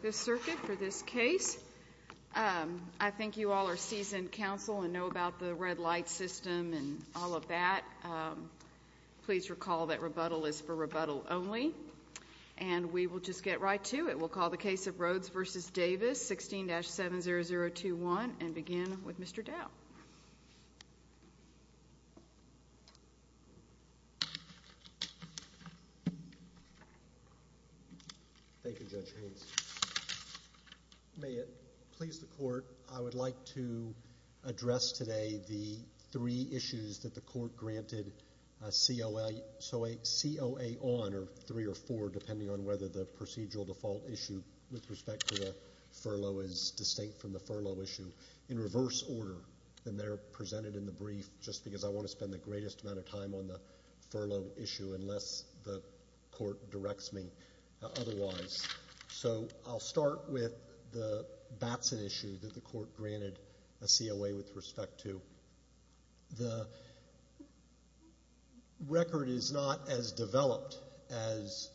This circuit for this case. I think you all are seasoned counsel and know about the red light system and all of that. Please recall that rebuttal is for rebuttal only and we will just get right to it. We'll call the case of Rhoades v. Davis, 16-70021, and begin with Mr. Dow. Thank you, Judge Haynes. May it please the court, I would like to address today the three issues that the court granted COA on, or three or four, depending on whether the procedural default issue with respect to the furlough is distinct from the furlough issue, in reverse order. And they're presented in the brief just because I want to spend the greatest amount of time on the furlough issue unless the court directs me otherwise. So I'll start with the Batson issue that the court granted a COA with respect to. The record is not as developed as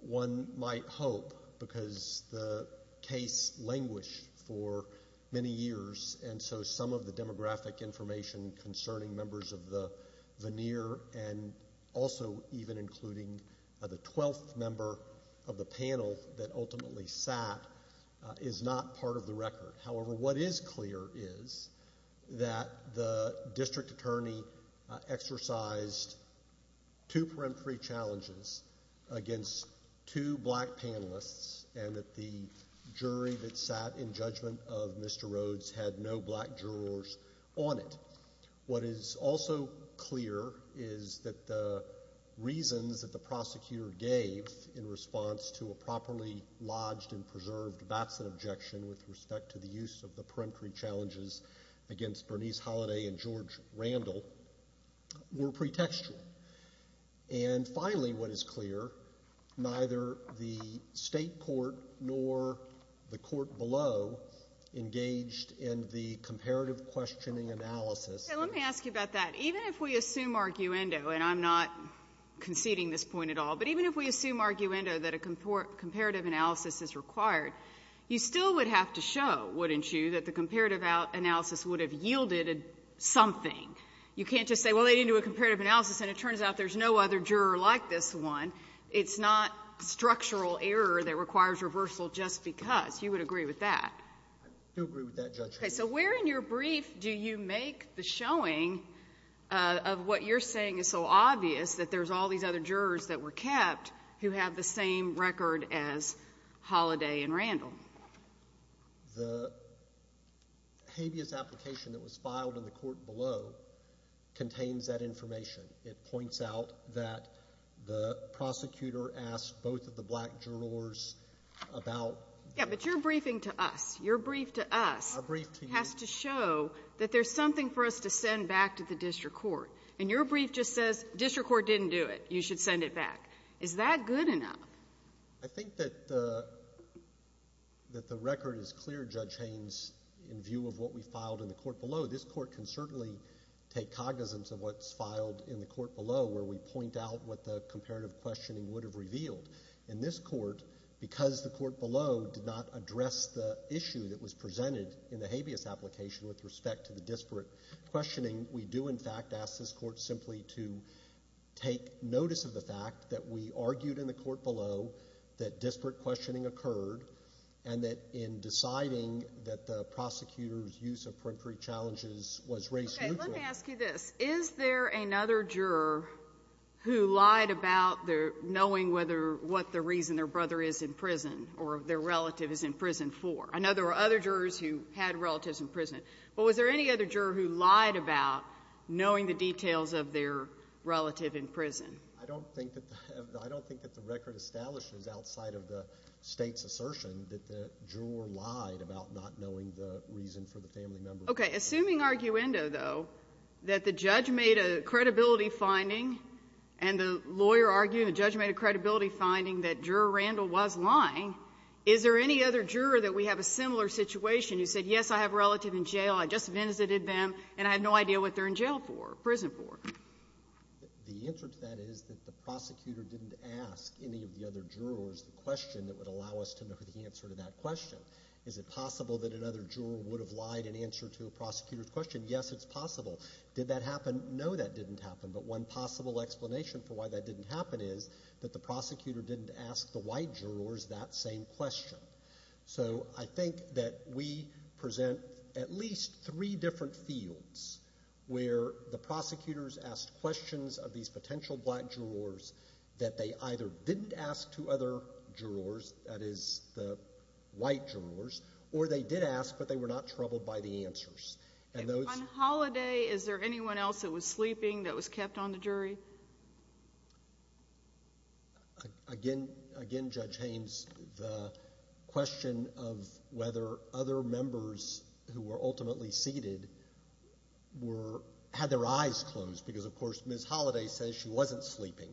one might hope because the case languished for many years and so some of the demographic information concerning members of the veneer and also even including the 12th member of the panel that ultimately sat is not part of the record. However, what is clear is that the district attorney exercised two peremptory challenges against two black panelists and that the jury that sat in judgment of Mr. Rhoades had no black jurors on it. What is also clear is that the reasons that the prosecutor gave in response to a properly lodged and preserved Batson objection with respect to the use of the peremptory challenges against Bernice Holliday and George Randall were pretextual. And finally, what is clear, neither the State court nor the court below engaged in the comparative questioning analysis. And let me ask you about that. Even if we assume arguendo, and I'm not conceding this point at all, but even if we assume arguendo that a comparative analysis is required, you still would have to show, wouldn't you, that the comparative analysis would have yielded something. You can't just say, well, they didn't do a comparative analysis, and it turns out there's no other juror like this one. It's not structural error that requires reversal just because. You would agree with that. I do agree with that, Judge Hayes. Okay. So where in your brief do you make the showing of what you're saying is so obvious, that there's all these other jurors that were kept who have the same record as Holliday and Randall? The habeas application that was filed in the court below contains that information. It points out that the prosecutor asked both of the black jurors about... Yeah, but your briefing to us, your brief to us has to show that there's something for us to send back to the district court. And your brief just says district court didn't do it. You should send it back. Is that good enough? I think that the record is clear, Judge Hayes, in view of what we filed in the court below. This court can certainly take cognizance of what's filed in the court below where we point out what the comparative questioning would have revealed. In this court, because the court below did not address the issue that was presented in the habeas application with respect to the disparate questioning, we do, in fact, ask this court simply to take notice of the fact that we argued in the court below that disparate questioning occurred and that in deciding that the prosecutor's use of peremptory challenges was race neutral. Okay. Let me ask you this. Is there another juror who lied about knowing whether what the reason their brother is in prison or their relative is in prison for? I know there were other jurors who had relatives in prison. But was there any other juror who lied about knowing the details of their relative in prison? I don't think that the record establishes outside of the State's assertion that the juror lied about not knowing the reason for the family member. Okay. Assuming, arguendo, though, that the judge made a credibility finding and the lawyer argued and the judge made a credibility finding that Juror Randall was lying, is there any other juror that we have a similar situation who said, yes, I have a relative in jail, I just visited them, and I have no idea what they're in jail for, prison for? The answer to that is that the prosecutor didn't ask any of the other jurors the question that would allow us to know the answer to that question. Is it possible that another juror would have lied in answer to a prosecutor's question? Yes, it's possible. Did that happen? No, that didn't happen. But one possible explanation for why that didn't happen is that the prosecutor didn't ask the white jurors that same question. So I think that we present at least three different fields where the prosecutors asked questions of these potential black jurors that they either didn't ask to other jurors, that is, the white jurors, or they did ask, but they were not troubled by the answers. And those — And on holiday, is there anyone else that was sleeping that was kept on the jury? Again, Judge Haynes, the question of whether other members who were ultimately seated were — had their eyes closed, because, of course, Ms. Holiday says she wasn't sleeping.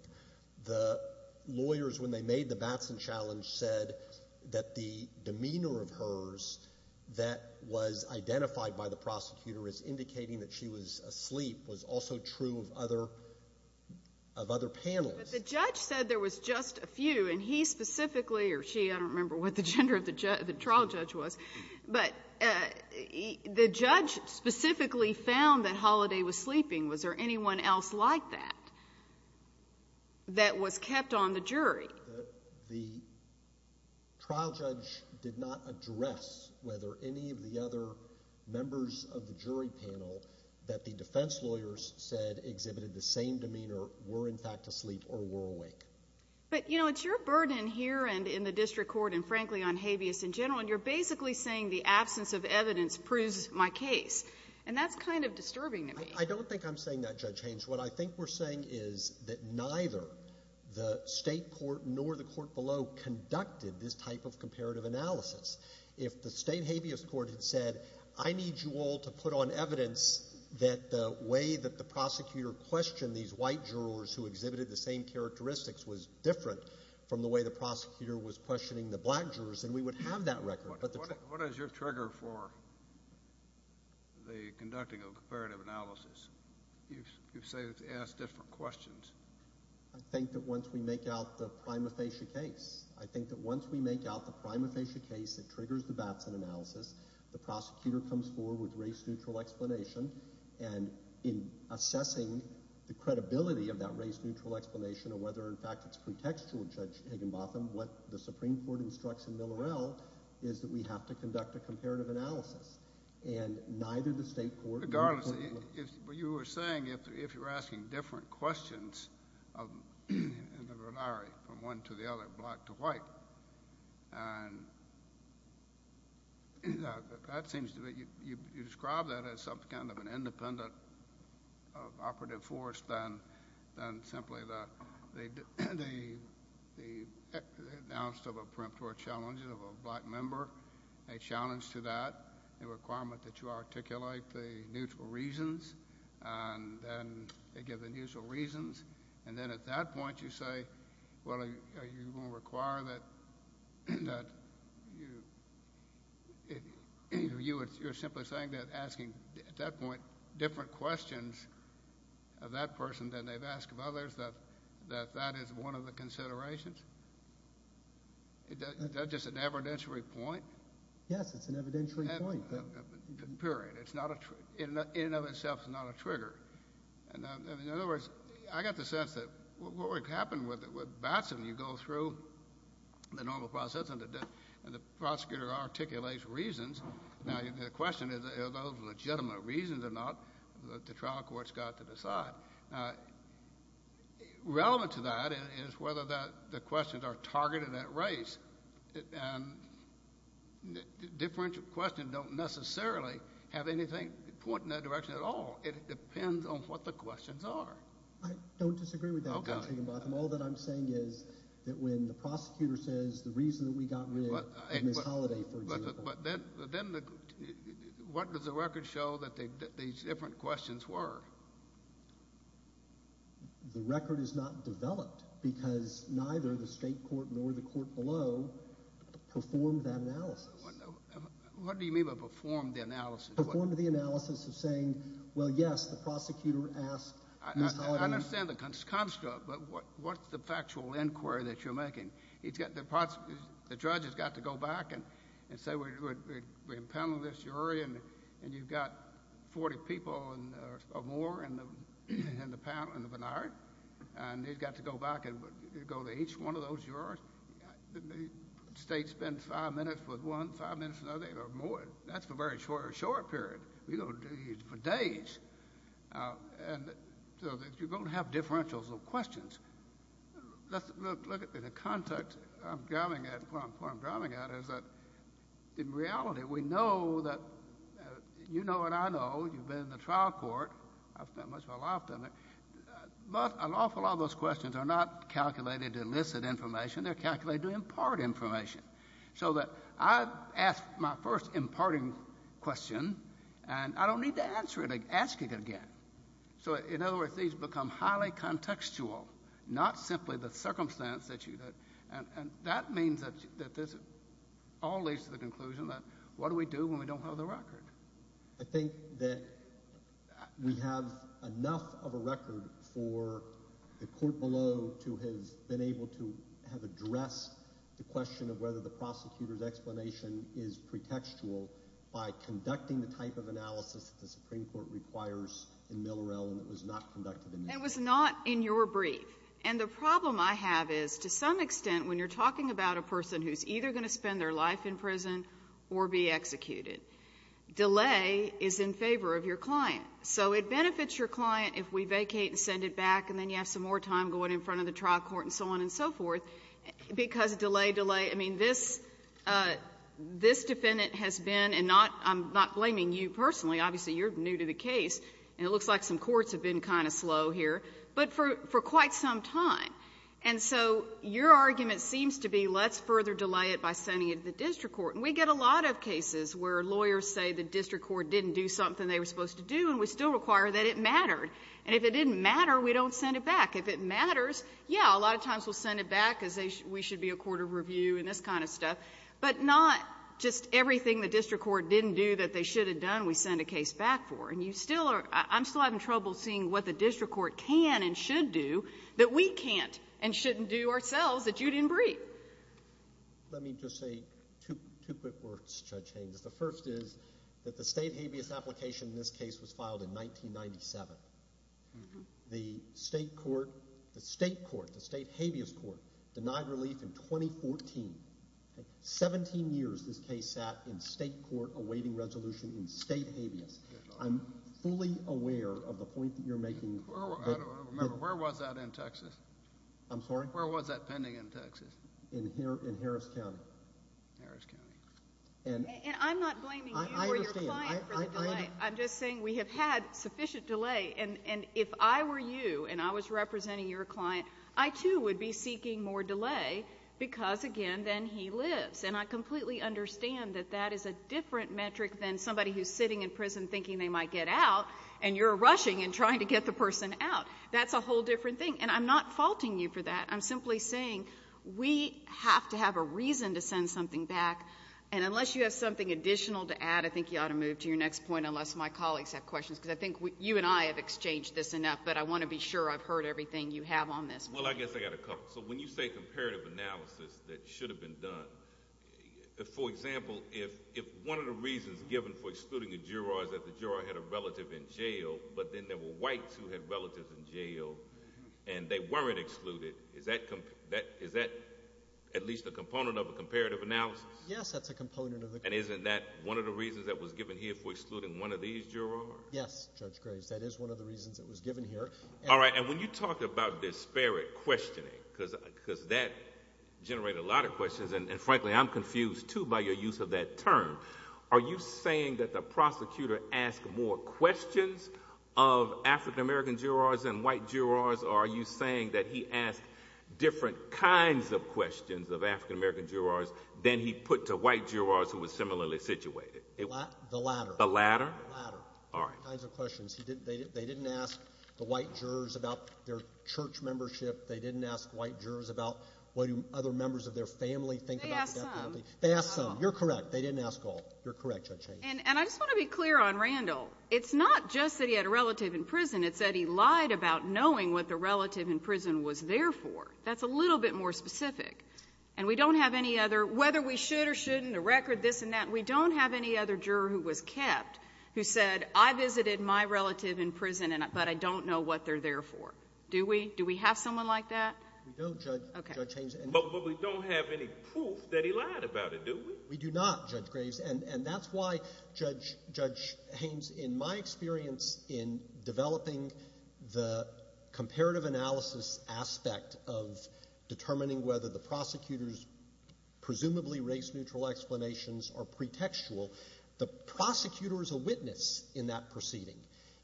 The lawyers, when they made the Batson Challenge, said that the demeanor of hers that was identified by the prosecutor as indicating that she was asleep was also true of other — of other panels. But the judge said there was just a few, and he specifically — or she, I don't remember what the gender of the trial judge was. But the judge specifically found that Holiday was sleeping. Was there anyone else like that that was kept on the jury? The trial judge did not address whether any of the other members of the jury panel that the defense lawyers said exhibited the same demeanor were, in fact, asleep or were awake. But, you know, it's your burden here and in the district court and, frankly, on habeas in general, and you're basically saying the absence of evidence proves my case. And that's kind of disturbing to me. I don't think I'm saying that, Judge Haynes. What I think we're saying is that neither the State court nor the court below conducted this type of comparative analysis. If the State habeas court had said, I need you all to put on evidence that the way that the prosecutor questioned these white jurors who exhibited the same characteristics was different from the way the prosecutor was questioning the black jurors, then we would have that record. But the — What is your trigger for the conducting of a comparative analysis? You say it's to ask different questions. I think that once we make out the prima facie case, I think that once we make out the prima facie case, it triggers the Batson analysis. The prosecutor comes forward with race-neutral explanation. And in assessing the credibility of that race-neutral explanation or whether, in fact, it's pretextual, Judge Higginbotham, what the Supreme Court instructs in Millerell is that we have to conduct a comparative analysis. And neither the State court nor the court below — Regardless, what you were saying, if you're asking different questions in the ronari from one to the other, black to white, and that seems to be — you describe that as some kind of an independent of operative force than simply the announced of a preemptory challenge of a black member, a challenge to that, a requirement that you articulate the neutral reasons, and then they give the neutral reasons. And then at that point, you say, well, are you going to require that you — you're simply saying that asking, at that point, different questions of that person than they've asked of others, that that is one of the considerations? Is that just an evidentiary point? Yes, it's an evidentiary point. Period. It's not a — in and of itself, it's not a trigger. In other words, I got the sense that what would happen with Batson, you go through the normal process, and the prosecutor articulates reasons. Now, the question is, are those legitimate reasons or not that the trial court's got to decide? Now, relevant to that is whether the questions are targeted at race. And differential questions don't necessarily have anything pointing that direction at all. It depends on what the questions are. I don't disagree with that. Okay. All that I'm saying is that when the prosecutor says the reason that we got rid of Ms. Holliday, for example — But then what does the record show that these different questions were? The record is not developed because neither the state court nor the court below performed that analysis. What do you mean by performed the analysis? Performed the analysis of saying, well, yes, the prosecutor asked Ms. Holliday — I understand the construct, but what's the factual inquiry that you're making? The judge has got to go back and say, we impounded this jury, and you've got 40 people or more in the penitentiary, and they've got to go back and go to each one of those jurors. The state spends five minutes with one, five minutes with another, or more. That's for a very short period. We don't do these for days. So you're going to have differentials of questions. Look at the context I'm driving at. What I'm driving at is that in reality, we know that — you know and I know. You've been in the trial court. I've spent much of my life in it. But an awful lot of those questions are not calculated to elicit information. They're calculated to impart information. So that I've asked my first imparting question, and I don't need to ask it again. So, in other words, these become highly contextual, not simply the circumstance that you — and that means that this all leads to the conclusion that what do we do when we don't have the record? I think that we have enough of a record for the court below to have been able to have addressed the question of whether the prosecutor's explanation is pretextual by conducting the type of analysis that the Supreme Court requires in Millerell, and it was not conducted in Millerell. It was not in your brief. And the problem I have is, to some extent, when you're talking about a person who's either going to spend their life in prison or be executed, delay is in favor of your client. So it benefits your client if we vacate and send it back, and then you have some more time going in front of the trial court and so on and so forth, because delay, delay. I mean, this defendant has been — and I'm not blaming you personally. Obviously, you're new to the case, and it looks like some courts have been kind of slow here, but for quite some time. And so your argument seems to be let's further delay it by sending it to the district court. And we get a lot of cases where lawyers say the district court didn't do something they were supposed to do, and we still require that it mattered. And if it didn't matter, we don't send it back. If it matters, yeah, a lot of times we'll send it back because we should be a court of review and this kind of stuff, but not just everything the district court didn't do that they should have done, we send a case back for. And you still are — I'm still having trouble seeing what the district court can and should do that we can't and shouldn't do ourselves that you didn't brief. Let me just say two quick words, Judge Haynes. The first is that the state habeas application in this case was filed in 1997. The state court — the state court, the state habeas court denied relief in 2014. Seventeen years this case sat in state court awaiting resolution in state habeas. I'm fully aware of the point that you're making. I don't remember. Where was that in Texas? I'm sorry? Where was that pending in Texas? In Harris County. Harris County. And I'm not blaming you or your client for delay. I understand. I'm just saying we have had sufficient delay. And if I were you and I was representing your client, I too would be seeking more delay because, again, then he lives. And I completely understand that that is a different metric than somebody who's sitting in prison thinking they might get out and you're rushing and trying to get the person out. That's a whole different thing. And I'm not faulting you for that. I'm simply saying we have to have a reason to send something back. And unless you have something additional to add, I think you ought to move to your next point, unless my colleagues have questions, because I think you and I have exchanged this enough, but I want to be sure I've heard everything you have on this. Well, I guess I've got a couple. So when you say comparative analysis that should have been done, for example, if one of the reasons given for excluding a juror is that the juror had a relative in jail, but then there were whites who had relatives in jail and they weren't excluded, is that at least a component of a comparative analysis? Yes, that's a component of a comparative analysis. And isn't that one of the reasons that was given here for excluding one of these jurors? Yes, Judge Graves, that is one of the reasons it was given here. All right. And when you talk about disparate questioning, because that generated a lot of questions, and, frankly, I'm confused, too, by your use of that term, are you saying that the prosecutor asked more questions of African-American jurors than white jurors, or are you saying that he asked different kinds of questions of African-American jurors than he put to white jurors who were similarly situated? The latter. The latter? The latter. All right. He asked different kinds of questions. They didn't ask the white jurors about their church membership. They didn't ask white jurors about what other members of their family think about the death penalty. They asked some. They asked some. You're correct. They didn't ask all. You're correct, Judge Hayes. And I just want to be clear on Randall. It's not just that he had a relative in prison. It's that he lied about knowing what the relative in prison was there for. That's a little bit more specific. And we don't have any other, whether we should or shouldn't, a record, this and that, we don't have any other juror who was kept who said, I visited my relative in prison, but I don't know what they're there for. Do we? Do we have someone like that? We don't, Judge Hayes. Okay. But we don't have any proof that he lied about it, do we? We do not, Judge Graves. And that's why, Judge Hayes, in my experience in developing the comparative analysis of determining whether the prosecutor's presumably race-neutral explanations are pretextual, the prosecutor is a witness in that proceeding.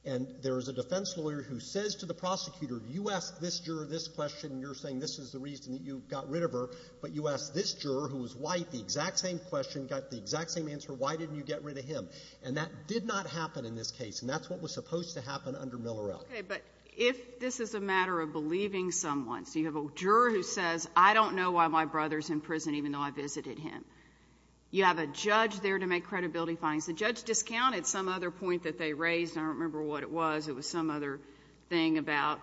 And there is a defense lawyer who says to the prosecutor, you asked this juror this question, and you're saying this is the reason that you got rid of her, but you asked this juror, who was white, the exact same question, got the exact same answer. Why didn't you get rid of him? And that did not happen in this case, and that's what was supposed to happen under Millerell. Okay. But if this is a matter of believing someone, so you have a juror who says, I don't know why my brother's in prison even though I visited him. You have a judge there to make credibility findings. The judge discounted some other point that they raised. I don't remember what it was. It was some other thing about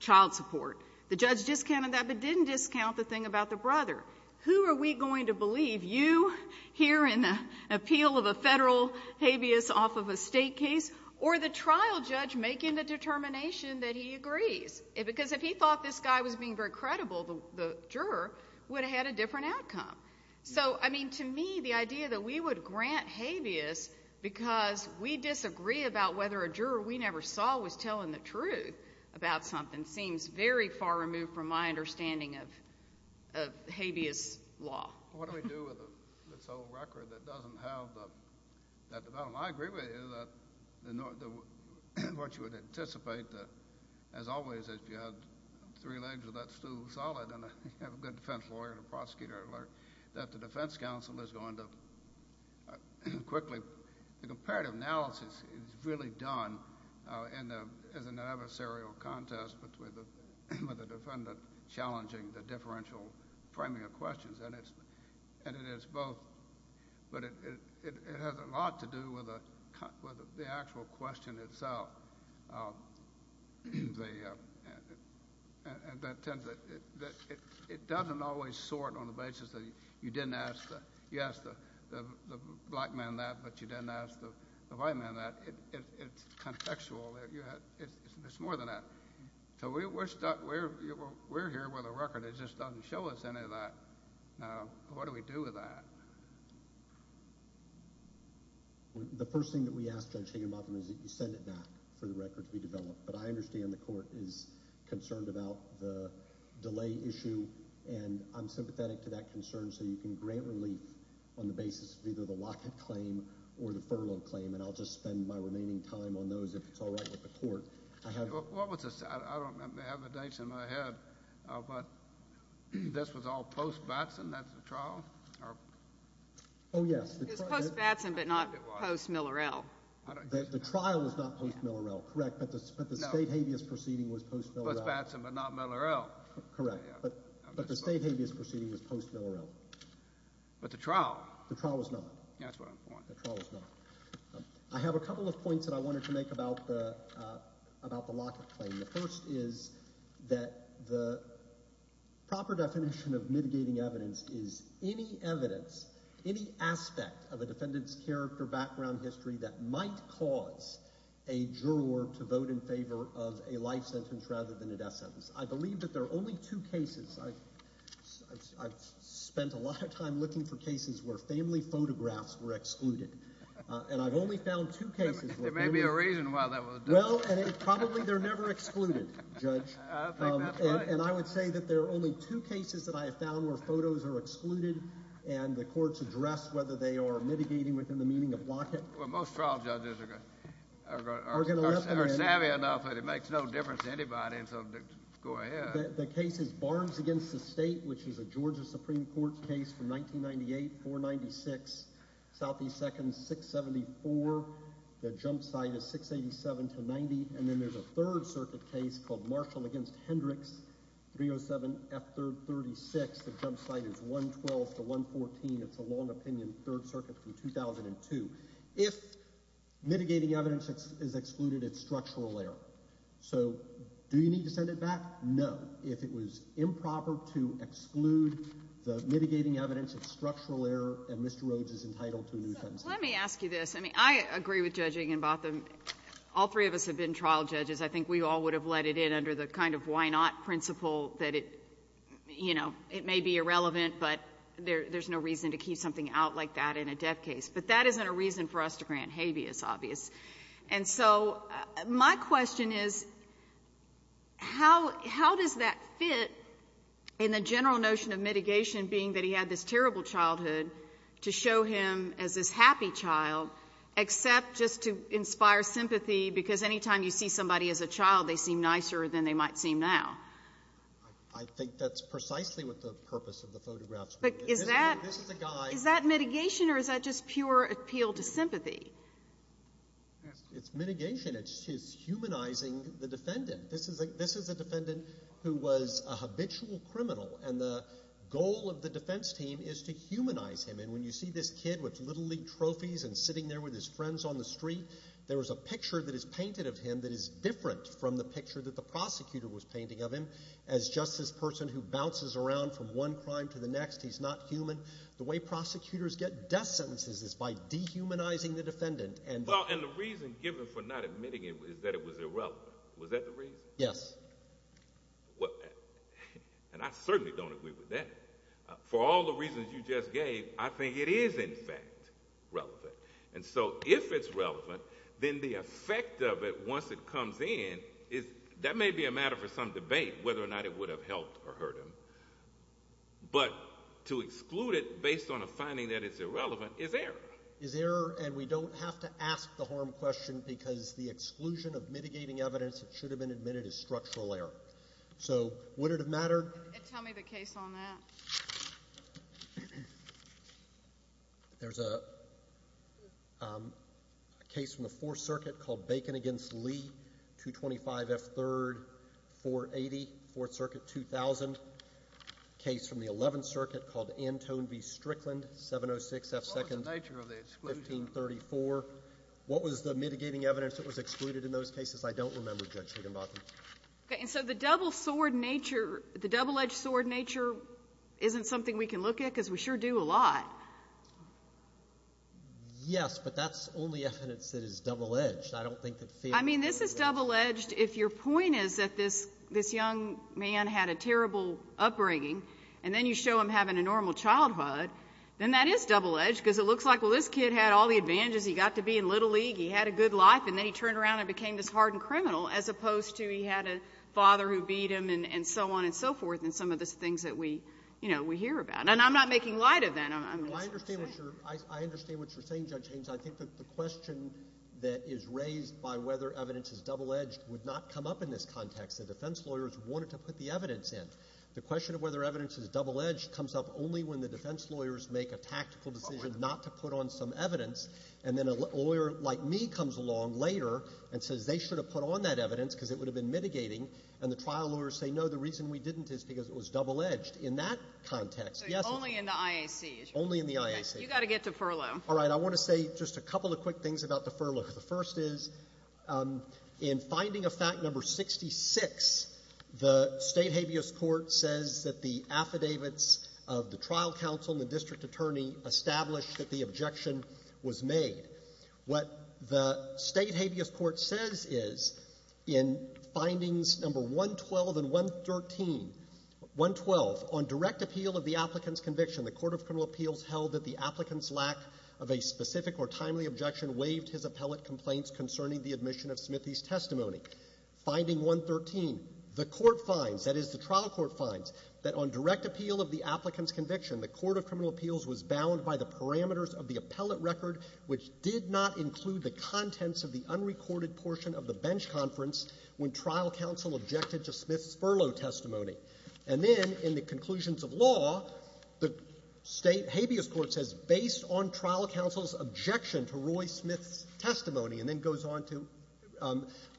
child support. The judge discounted that but didn't discount the thing about the brother. Who are we going to believe, you here in the appeal of a Federal habeas off of a State case or the trial judge making the determination that he agrees? Because if he thought this guy was being very credible, the juror would have had a different outcome. So, I mean, to me, the idea that we would grant habeas because we disagree about whether a juror we never saw was telling the truth about something seems very far removed from my understanding of habeas law. What do we do with this whole record that doesn't have that development? I agree with you that what you would anticipate, as always, if you had three legs with that stool solid and you have a good defense lawyer and a prosecutor, that the defense counsel is going to quickly, the comparative analysis is really done as an adversarial contest between the defendant challenging the differential framing of questions. And it is both. But it has a lot to do with the actual question itself. It doesn't always sort on the basis that you didn't ask the black man that but you didn't ask the white man that. It's contextual. It's more than that. So we're stuck. We're here with a record. It just doesn't show us any of that. Now, what do we do with that? The first thing that we ask Judge Higginbotham is that you send it back for the record to be developed. But I understand the court is concerned about the delay issue, and I'm sympathetic to that concern, so you can grant relief on the basis of either the locket claim or the furlough claim, and I'll just spend my remaining time on those if it's all right with the court. What was this? I don't have the dates in my head, but this was all post-Batson? That's the trial? Oh, yes. It was post-Batson but not post-Millerell. The trial was not post-Millerell, correct, but the state habeas proceeding was post-Millerell. Post-Batson but not Millerell. Correct. But the state habeas proceeding was post-Millerell. But the trial? The trial was not. That's what I'm pointing to. The trial was not. I have a couple of points that I wanted to make about the locket claim. The first is that the proper definition of mitigating evidence is any evidence, any aspect of a defendant's character, background, history that might cause a juror to vote in favor of a life sentence rather than a death sentence. I believe that there are only two cases. I've spent a lot of time looking for cases where family photographs were excluded. And I've only found two cases. There may be a reason why that was done. Well, and probably they're never excluded, Judge. I think that's right. And I would say that there are only two cases that I have found where photos are excluded and the courts address whether they are mitigating within the meaning of locket. Well, most trial judges are savvy enough that it makes no difference to anybody and so go ahead. The case is Barnes v. State, which is a Georgia Supreme Court case from 1998, 496 S.E. 2nd, 674. The jump site is 687-90. And then there's a Third Circuit case called Marshall v. Hendricks, 307 F. 3rd, 36. The jump site is 112-114. It's a long opinion Third Circuit from 2002. If mitigating evidence is excluded, it's structural error. So do you need to send it back? No. If it was improper to exclude the mitigating evidence, it's structural error, and Mr. Rhodes is entitled to a new sentence. So let me ask you this. I mean, I agree with Judging and Botham. All three of us have been trial judges. I think we all would have let it in under the kind of why not principle that it, you know, it may be irrelevant, but there's no reason to keep something out like that in a death case. But that isn't a reason for us to grant habeas, obvious. And so my question is, how does that fit in the general notion of mitigation being that he had this terrible childhood to show him as this happy child, except just to inspire sympathy, because any time you see somebody as a child, they seem nicer than they might seem now? I think that's precisely what the purpose of the photograph is. But is that mitigation, or is that just pure appeal to sympathy? It's mitigation. It's humanizing the defendant. This is a defendant who was a habitual criminal, and the goal of the defense team is to humanize him. And when you see this kid with Little League trophies and sitting there with his friends on the street, there is a picture that is painted of him that is different from the picture that the prosecutor was painting of him as just this person who bounces around from one crime to the next. He's not human. The way prosecutors get death sentences is by dehumanizing the defendant. Well, and the reason given for not admitting it is that it was irrelevant. Was that the reason? Yes. And I certainly don't agree with that. For all the reasons you just gave, I think it is, in fact, relevant. And so if it's relevant, then the effect of it, once it comes in, that may be a matter for some debate whether or not it would have helped or hurt him. But to exclude it based on a finding that it's irrelevant is error. It's error, and we don't have to ask the harm question because the exclusion of mitigating evidence that should have been admitted is structural error. So would it have mattered? Tell me the case on that. There's a case from the Fourth Circuit called Bacon v. Lee, 225 F. 3rd, 480, Fourth Circuit, 2000. A case from the Eleventh Circuit called Antone v. Strickland, 706 F. 2nd, 1534. What was the mitigating evidence that was excluded in those cases? I don't remember, Judge Higginbotham. Okay. And so the double-edged sword nature isn't something we can look at because we sure do a lot. Yes, but that's only evidence that is double-edged. I don't think that fair to look at it. I mean, this is double-edged if your point is that this young man had a terrible upbringing, and then you show him having a normal childhood, then that is double-edged because it looks like, well, this kid had all the advantages. He got to be in Little League. He had a good life, and then he turned around and became this hardened criminal as opposed to he had a father who beat him and so on and so forth and some of the things that we hear about. And I'm not making light of that. I understand what you're saying, Judge Haynes. I think that the question that is raised by whether evidence is double-edged would not come up in this context. The defense lawyers wanted to put the evidence in. The question of whether evidence is double-edged comes up only when the defense lawyers make a tactical decision not to put on some evidence, and then a lawyer like me comes along later and says they should have put on that evidence because it would have been mitigating, and the trial lawyers say, no, the reason we didn't is because it was double-edged. In that context, yes. So it's only in the IAC, is it? Only in the IAC. You've got to get to furlough. All right. I want to say just a couple of quick things about the furlough. The first is in finding of fact number 66, the State habeas court says that the affidavits of the trial counsel and the district attorney established that the objection was made. What the State habeas court says is in findings number 112 and 113, 112, on direct appeal of the applicant's conviction, the court of criminal appeals held that the application of a specific or timely objection waived his appellate complaints concerning the admission of Smithy's testimony. Finding 113, the court finds, that is the trial court finds, that on direct appeal of the applicant's conviction, the court of criminal appeals was bound by the parameters of the appellate record, which did not include the contents of the unrecorded portion of the bench conference when trial counsel objected to Smith's furlough testimony. And then in the conclusions of law, the State habeas court says based on trial counsel's objection to Roy Smith's testimony, and then goes on to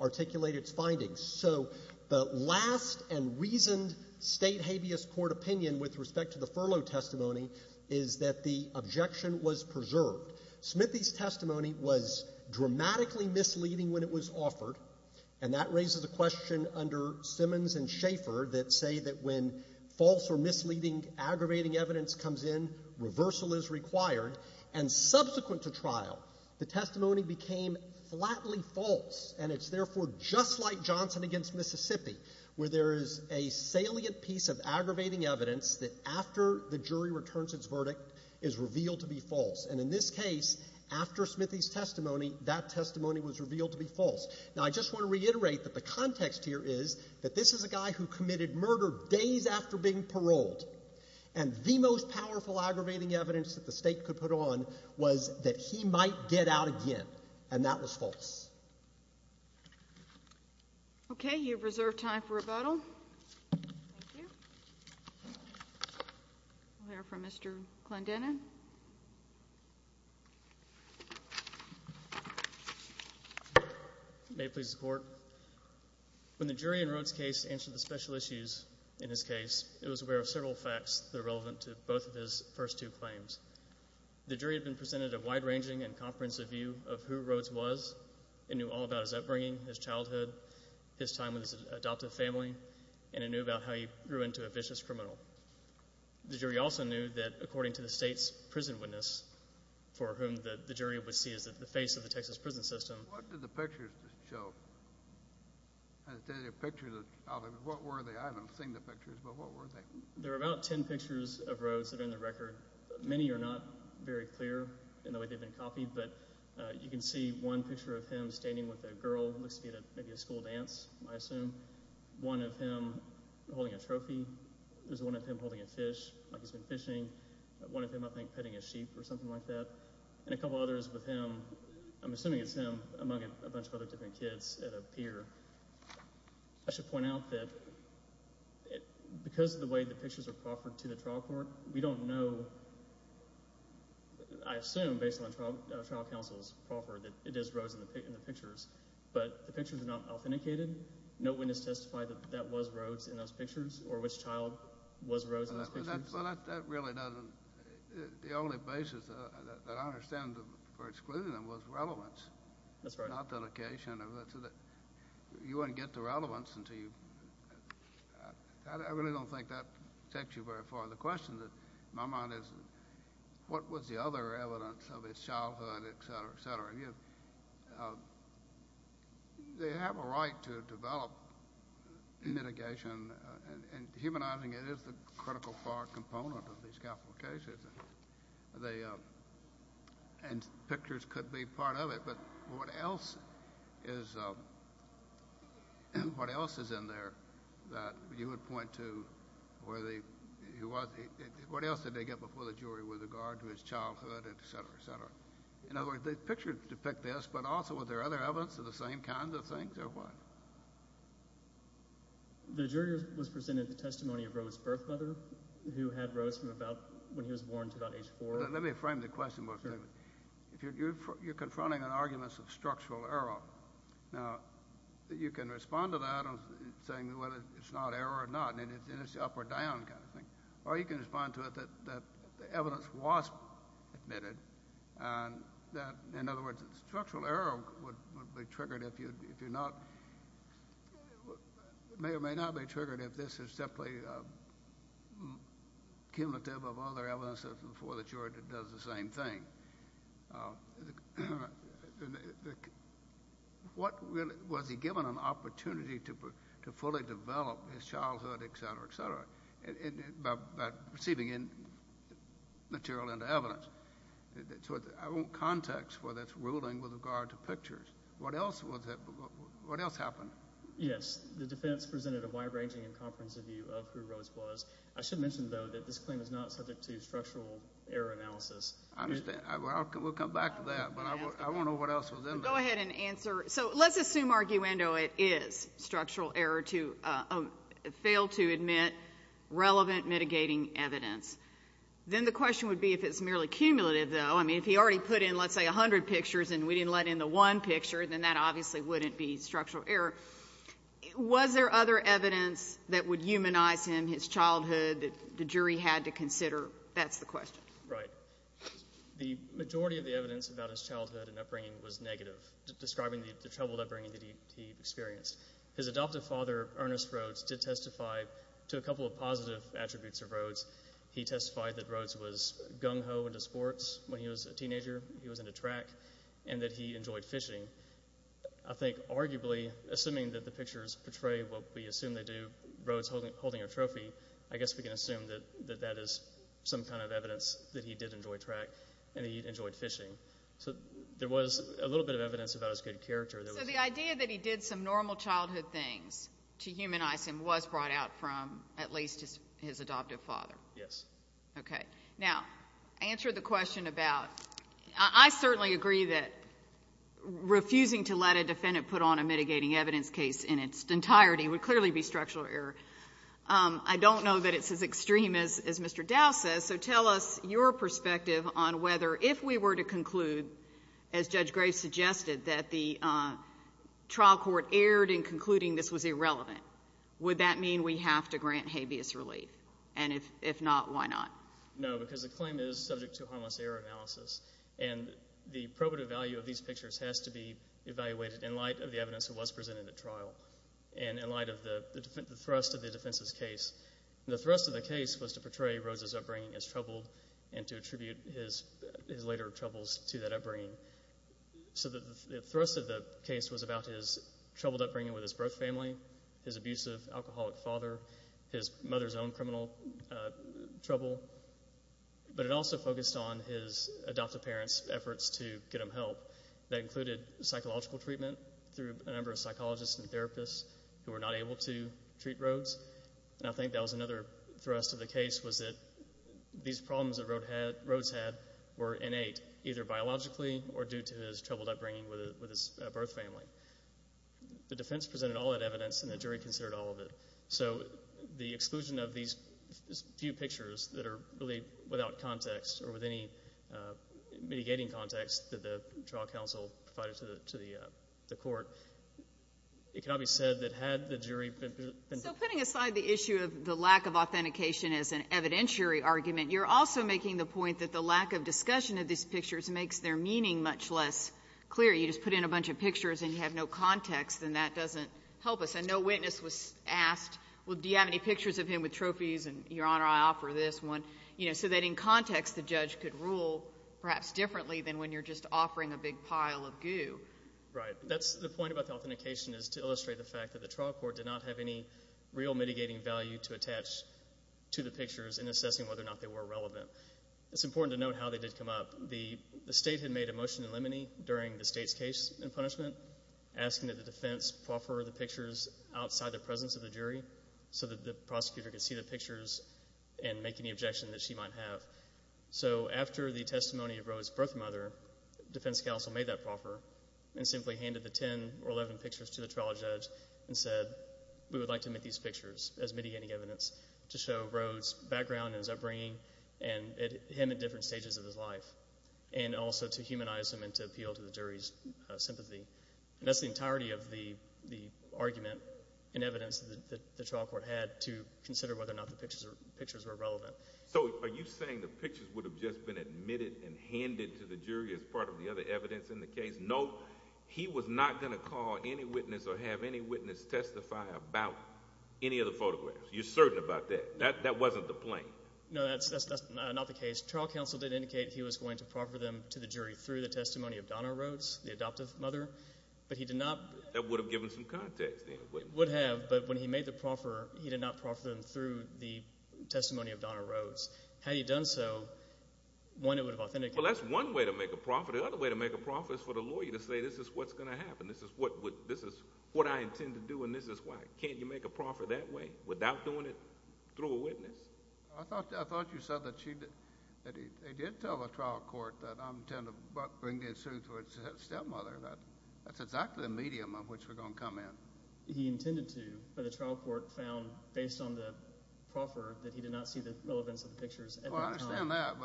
articulate its findings. So the last and reasoned State habeas court opinion with respect to the furlough testimony is that the objection was preserved. Smithy's testimony was dramatically misleading when it was offered, and that raises a question under Simmons and Schaffer that say that when false or misleading aggravating evidence comes in, reversal is required. And subsequent to trial, the testimony became flatly false, and it's therefore just like Johnson v. Mississippi, where there is a salient piece of aggravating evidence that after the jury returns its verdict is revealed to be false. And in this case, after Smithy's testimony, that testimony was revealed to be false. Now, I just want to reiterate that the context here is that this is a guy who committed murder days after being paroled, and the most powerful aggravating evidence that the State could put on was that he might get out again, and that was false. Okay. You have reserved time for rebuttal. Thank you. We'll hear from Mr. Clendenin. May it please the Court. When the jury in Rhoades' case answered the special issues in his case, it was aware of several facts that are relevant to both of his first two claims. The jury had been presented a wide-ranging and comprehensive view of who Rhoades was. It knew all about his upbringing, his childhood, his time with his adoptive family, and it knew about how he grew into a vicious criminal. The jury also knew that, according to the State's prison witness, for whom the jury would see as the face of the Texas prison system— What did the pictures show? I'll tell you the pictures. What were they? I haven't seen the pictures, but what were they? There are about ten pictures of Rhoades that are in the record. Many are not very clear in the way they've been copied, but you can see one picture of him standing with a girl. It looks to be maybe a school dance, I assume. One of him holding a trophy. There's one of him holding a fish, like he's been fishing. One of him, I think, petting a sheep or something like that. And a couple others with him. I'm assuming it's him among a bunch of other different kids at a pier. I should point out that because of the way the pictures are proffered to the trial court, we don't know—I assume, based on trial counsel's proffer, that it is Rhoades in the pictures, but the pictures are not authenticated. No witness testified that that was Rhoades in those pictures or which child was Rhoades in those pictures. Well, that really doesn't—the only basis that I understand for excluding them was relevance. That's right. Not the location of it. You wouldn't get the relevance until you—I really don't think that takes you very far. The question in my mind is what was the other evidence of his childhood, et cetera, et cetera. They have a right to develop mitigation, and humanizing it is the critical part component of these capital cases. And pictures could be part of it, but what else is in there that you would point to where he was? What else did they get before the jury with regard to his childhood, et cetera, et cetera? In other words, the pictures depict this, but also were there other evidence of the same kinds of things or what? The jury was presented the testimony of Rhoades' birth mother, who had Rhoades from about—when he was born to about age four. Let me frame the question more clearly. You're confronting an argument of structural error. Now, you can respond to that saying whether it's not error or not, and it's the up or down kind of thing. Or you can respond to it that the evidence was admitted, and that, in other words, structural error would be triggered if you're not— may or may not be triggered if this is simply cumulative of other evidence before the jury does the same thing. What really—was he given an opportunity to fully develop his childhood, et cetera, et cetera, by receiving material and evidence? So I want context for this ruling with regard to pictures. What else happened? Yes, the defense presented a wide-ranging and comprehensive view of who Rhoades was. I should mention, though, that this claim is not subject to structural error analysis. I understand. We'll come back to that, but I want to know what else was in there. Go ahead and answer. So let's assume, arguendo, it is structural error to fail to admit relevant mitigating evidence. Then the question would be if it's merely cumulative, though. I mean, if he already put in, let's say, 100 pictures and we didn't let in the one picture, then that obviously wouldn't be structural error. Was there other evidence that would humanize him, his childhood, that the jury had to consider? That's the question. Right. The majority of the evidence about his childhood and upbringing was negative, describing the troubled upbringing that he experienced. His adoptive father, Ernest Rhoades, did testify to a couple of positive attributes of Rhoades. He testified that Rhoades was gung-ho into sports when he was a teenager, he was into track, and that he enjoyed fishing. I think arguably, assuming that the pictures portray what we assume they do, Rhoades holding a trophy, I guess we can assume that that is some kind of evidence that he did enjoy track and he enjoyed fishing. So there was a little bit of evidence about his good character. So the idea that he did some normal childhood things to humanize him was brought out from at least his adoptive father? Yes. Okay. Now, answer the question about ‑‑ I certainly agree that refusing to let a defendant put on a mitigating evidence case in its entirety would clearly be structural error. I don't know that it's as extreme as Mr. Dow says, so tell us your perspective on whether if we were to conclude, as Judge Graves suggested, that the trial court erred in concluding this was irrelevant, would that mean we have to grant habeas relief? And if not, why not? No, because the claim is subject to harmless error analysis, and the probative value of these pictures has to be evaluated in light of the evidence that was presented at trial. And in light of the thrust of the defense's case, the thrust of the case was to portray Rose's upbringing as troubled and to attribute his later troubles to that upbringing. So the thrust of the case was about his troubled upbringing with his birth family, his abusive alcoholic father, his mother's own criminal trouble, but it also focused on his adoptive parents' efforts to get him help. That included psychological treatment through a number of psychologists and therapists who were not able to treat Rose. And I think that was another thrust of the case, was that these problems that Rose had were innate, either biologically or due to his troubled upbringing with his birth family. The defense presented all that evidence, and the jury considered all of it. So the exclusion of these few pictures that are really without context or with any mitigating context that the trial counsel provided to the court, it cannot be said that had the jury been... So putting aside the issue of the lack of authentication as an evidentiary argument, you're also making the point that the lack of discussion of these pictures makes their meaning much less clear. You just put in a bunch of pictures and you have no context, and that doesn't help us. And no witness was asked, well, do you have any pictures of him with trophies? And, Your Honor, I offer this one. So that in context, the judge could rule perhaps differently than when you're just offering a big pile of goo. Right. The point about the authentication is to illustrate the fact that the trial court did not have any real mitigating value to attach to the pictures in assessing whether or not they were relevant. It's important to note how they did come up. The state had made a motion in limine during the state's case in punishment asking that the defense proffer the pictures outside the presence of the jury so that the prosecutor could see the pictures and make any objection that she might have. So after the testimony of Rode's birth mother, defense counsel made that proffer and simply handed the 10 or 11 pictures to the trial judge and said we would like to make these pictures as mitigating evidence to show Rode's background and his upbringing and him in different stages of his life and also to humanize him and to appeal to the jury's sympathy. And that's the entirety of the argument and evidence that the trial court had to consider whether or not the pictures were relevant. So are you saying the pictures would have just been admitted and handed to the jury as part of the other evidence in the case? No. He was not going to call any witness or have any witness testify about any of the photographs. You're certain about that? That wasn't the plan? No, that's not the case. Trial counsel did indicate he was going to proffer them to the jury through the testimony of Donna Rodes, the adoptive mother, but he did not. That would have given some context. It would have, but when he made the proffer, he did not proffer them through the testimony of Donna Rodes. Had he done so, one, it would have authenticated. Well, that's one way to make a proffer. The other way to make a proffer is for the lawyer to say this is what's going to happen. This is what I intend to do and this is why. I thought you said that they did tell the trial court that I intend to bring these suits to a stepmother. That's exactly the medium in which we're going to come in. He intended to, but the trial court found, based on the proffer, that he did not see the relevance of the pictures at that time. Well, I understand that,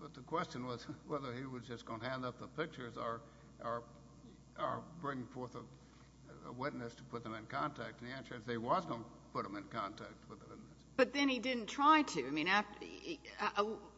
but the question was whether he was just going to hand up the pictures or bring forth a witness to put them in contact. And the answer is they was going to put them in contact with the witnesses. But then he didn't try to. I mean,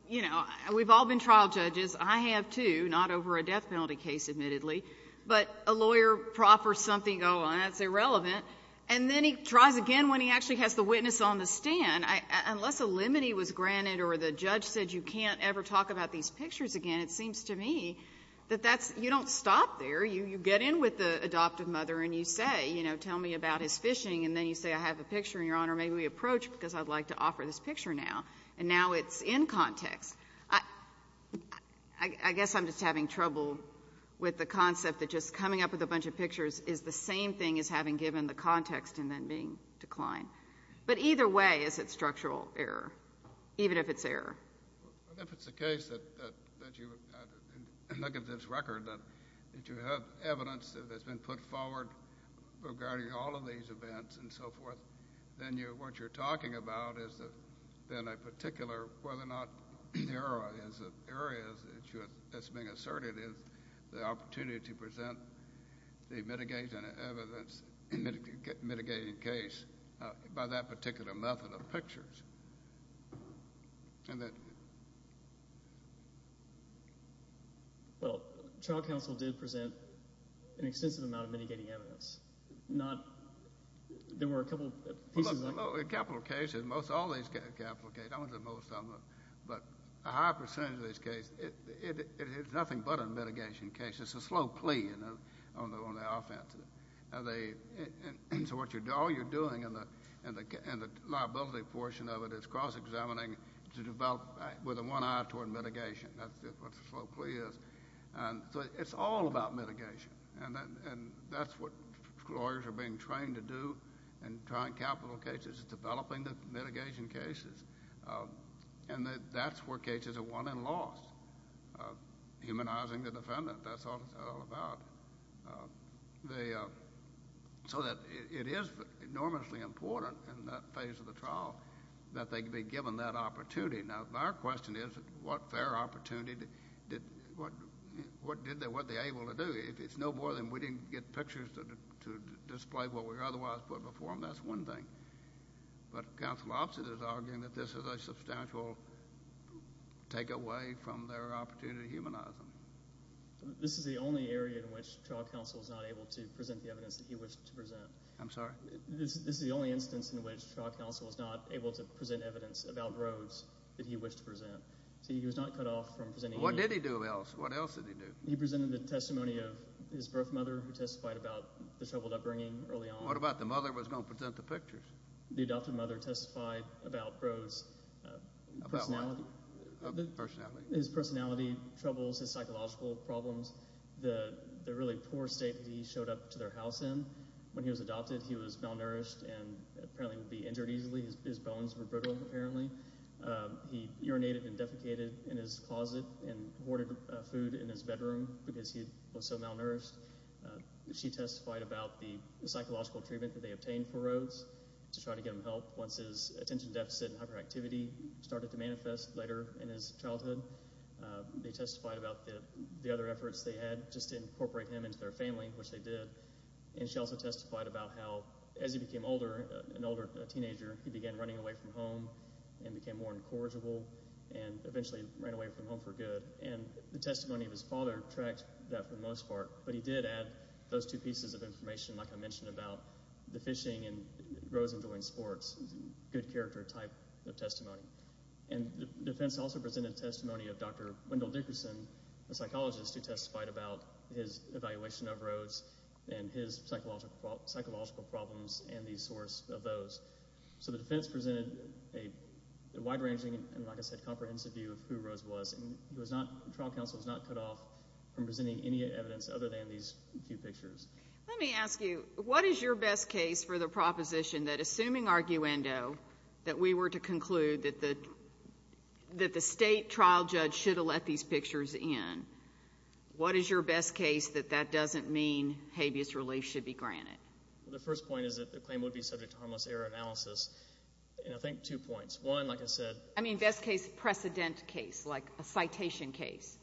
you know, we've all been trial judges. I have, too, not over a death penalty case, admittedly. But a lawyer proffers something, oh, that's irrelevant. And then he tries again when he actually has the witness on the stand. Unless a limit he was granted or the judge said you can't ever talk about these pictures again, it seems to me that that's you don't stop there. You get in with the adoptive mother and you say, you know, tell me about his fishing and then you say I have a picture and, Your Honor, maybe we approach because I'd like to offer this picture now. And now it's in context. I guess I'm just having trouble with the concept that just coming up with a bunch of pictures is the same thing as having given the context and then being declined. But either way, is it structural error, even if it's error? If it's the case that you look at this record, that you have evidence that's been put forward regarding all of these events and so forth, then what you're talking about is then a particular whether or not there are areas that's being asserted is the opportunity to present the mitigating evidence, mitigating case by that particular method of pictures. Well, trial counsel did present an extensive amount of mitigating evidence. There were a couple pieces. Well, in capital cases, most all these capital cases, I wouldn't say most of them, but a high percentage of these cases, it's nothing but a mitigation case. It's a slow plea on the offense. So all you're doing in the liability portion of it is cross-examining to develop with one eye toward mitigation. That's what the slow plea is. So it's all about mitigation. And that's what lawyers are being trained to do in trying capital cases, is developing the mitigation cases. And that's where cases are won and lost, humanizing the defendant. That's what it's all about. So it is enormously important in that phase of the trial that they be given that opportunity. Now, if our question is what fair opportunity, what were they able to do? If it's no more than we didn't get pictures to display what we otherwise put before them, that's one thing. But counsel opposite is arguing that this is a substantial take away from their opportunity to humanize them. This is the only area in which trial counsel is not able to present the evidence that he wished to present. I'm sorry? This is the only instance in which trial counsel is not able to present evidence about roads that he wished to present. See, he was not cut off from presenting any. What did he do else? What else did he do? He presented a testimony of his birth mother who testified about the troubled upbringing early on. What about the mother who was going to present the pictures? The adoptive mother testified about Roe's personality. His personality troubles, his psychological problems, the really poor state that he showed up to their house in. When he was adopted, he was malnourished and apparently would be injured easily. His bones were brittle apparently. He urinated and defecated in his closet and hoarded food in his bedroom because he was so malnourished. She testified about the psychological treatment that they obtained for Roe's to try to get him help once his attention deficit and hyperactivity started to manifest later in his childhood. They testified about the other efforts they had just to incorporate him into their family, which they did. And she also testified about how as he became older, an older teenager, he began running away from home and became more incorrigible and eventually ran away from home for good. And the testimony of his father tracked that for the most part, but he did add those two pieces of information like I mentioned about the fishing and Roe's enjoying sports, good character type of testimony. And the defense also presented testimony of Dr. Wendell Dickerson, a psychologist who testified about his evaluation of Roe's and his psychological problems and the source of those. So the defense presented a wide-ranging and, like I said, comprehensive view of who Roe's was. And the trial counsel was not cut off from presenting any evidence other than these few pictures. Let me ask you, what is your best case for the proposition that assuming arguendo that we were to conclude that the state trial judge should have let these pictures in, what is your best case that that doesn't mean habeas relief should be granted? The first point is that the claim would be subject to harmless error analysis. And I think two points. One, like I said— I mean best case precedent case, like a citation case,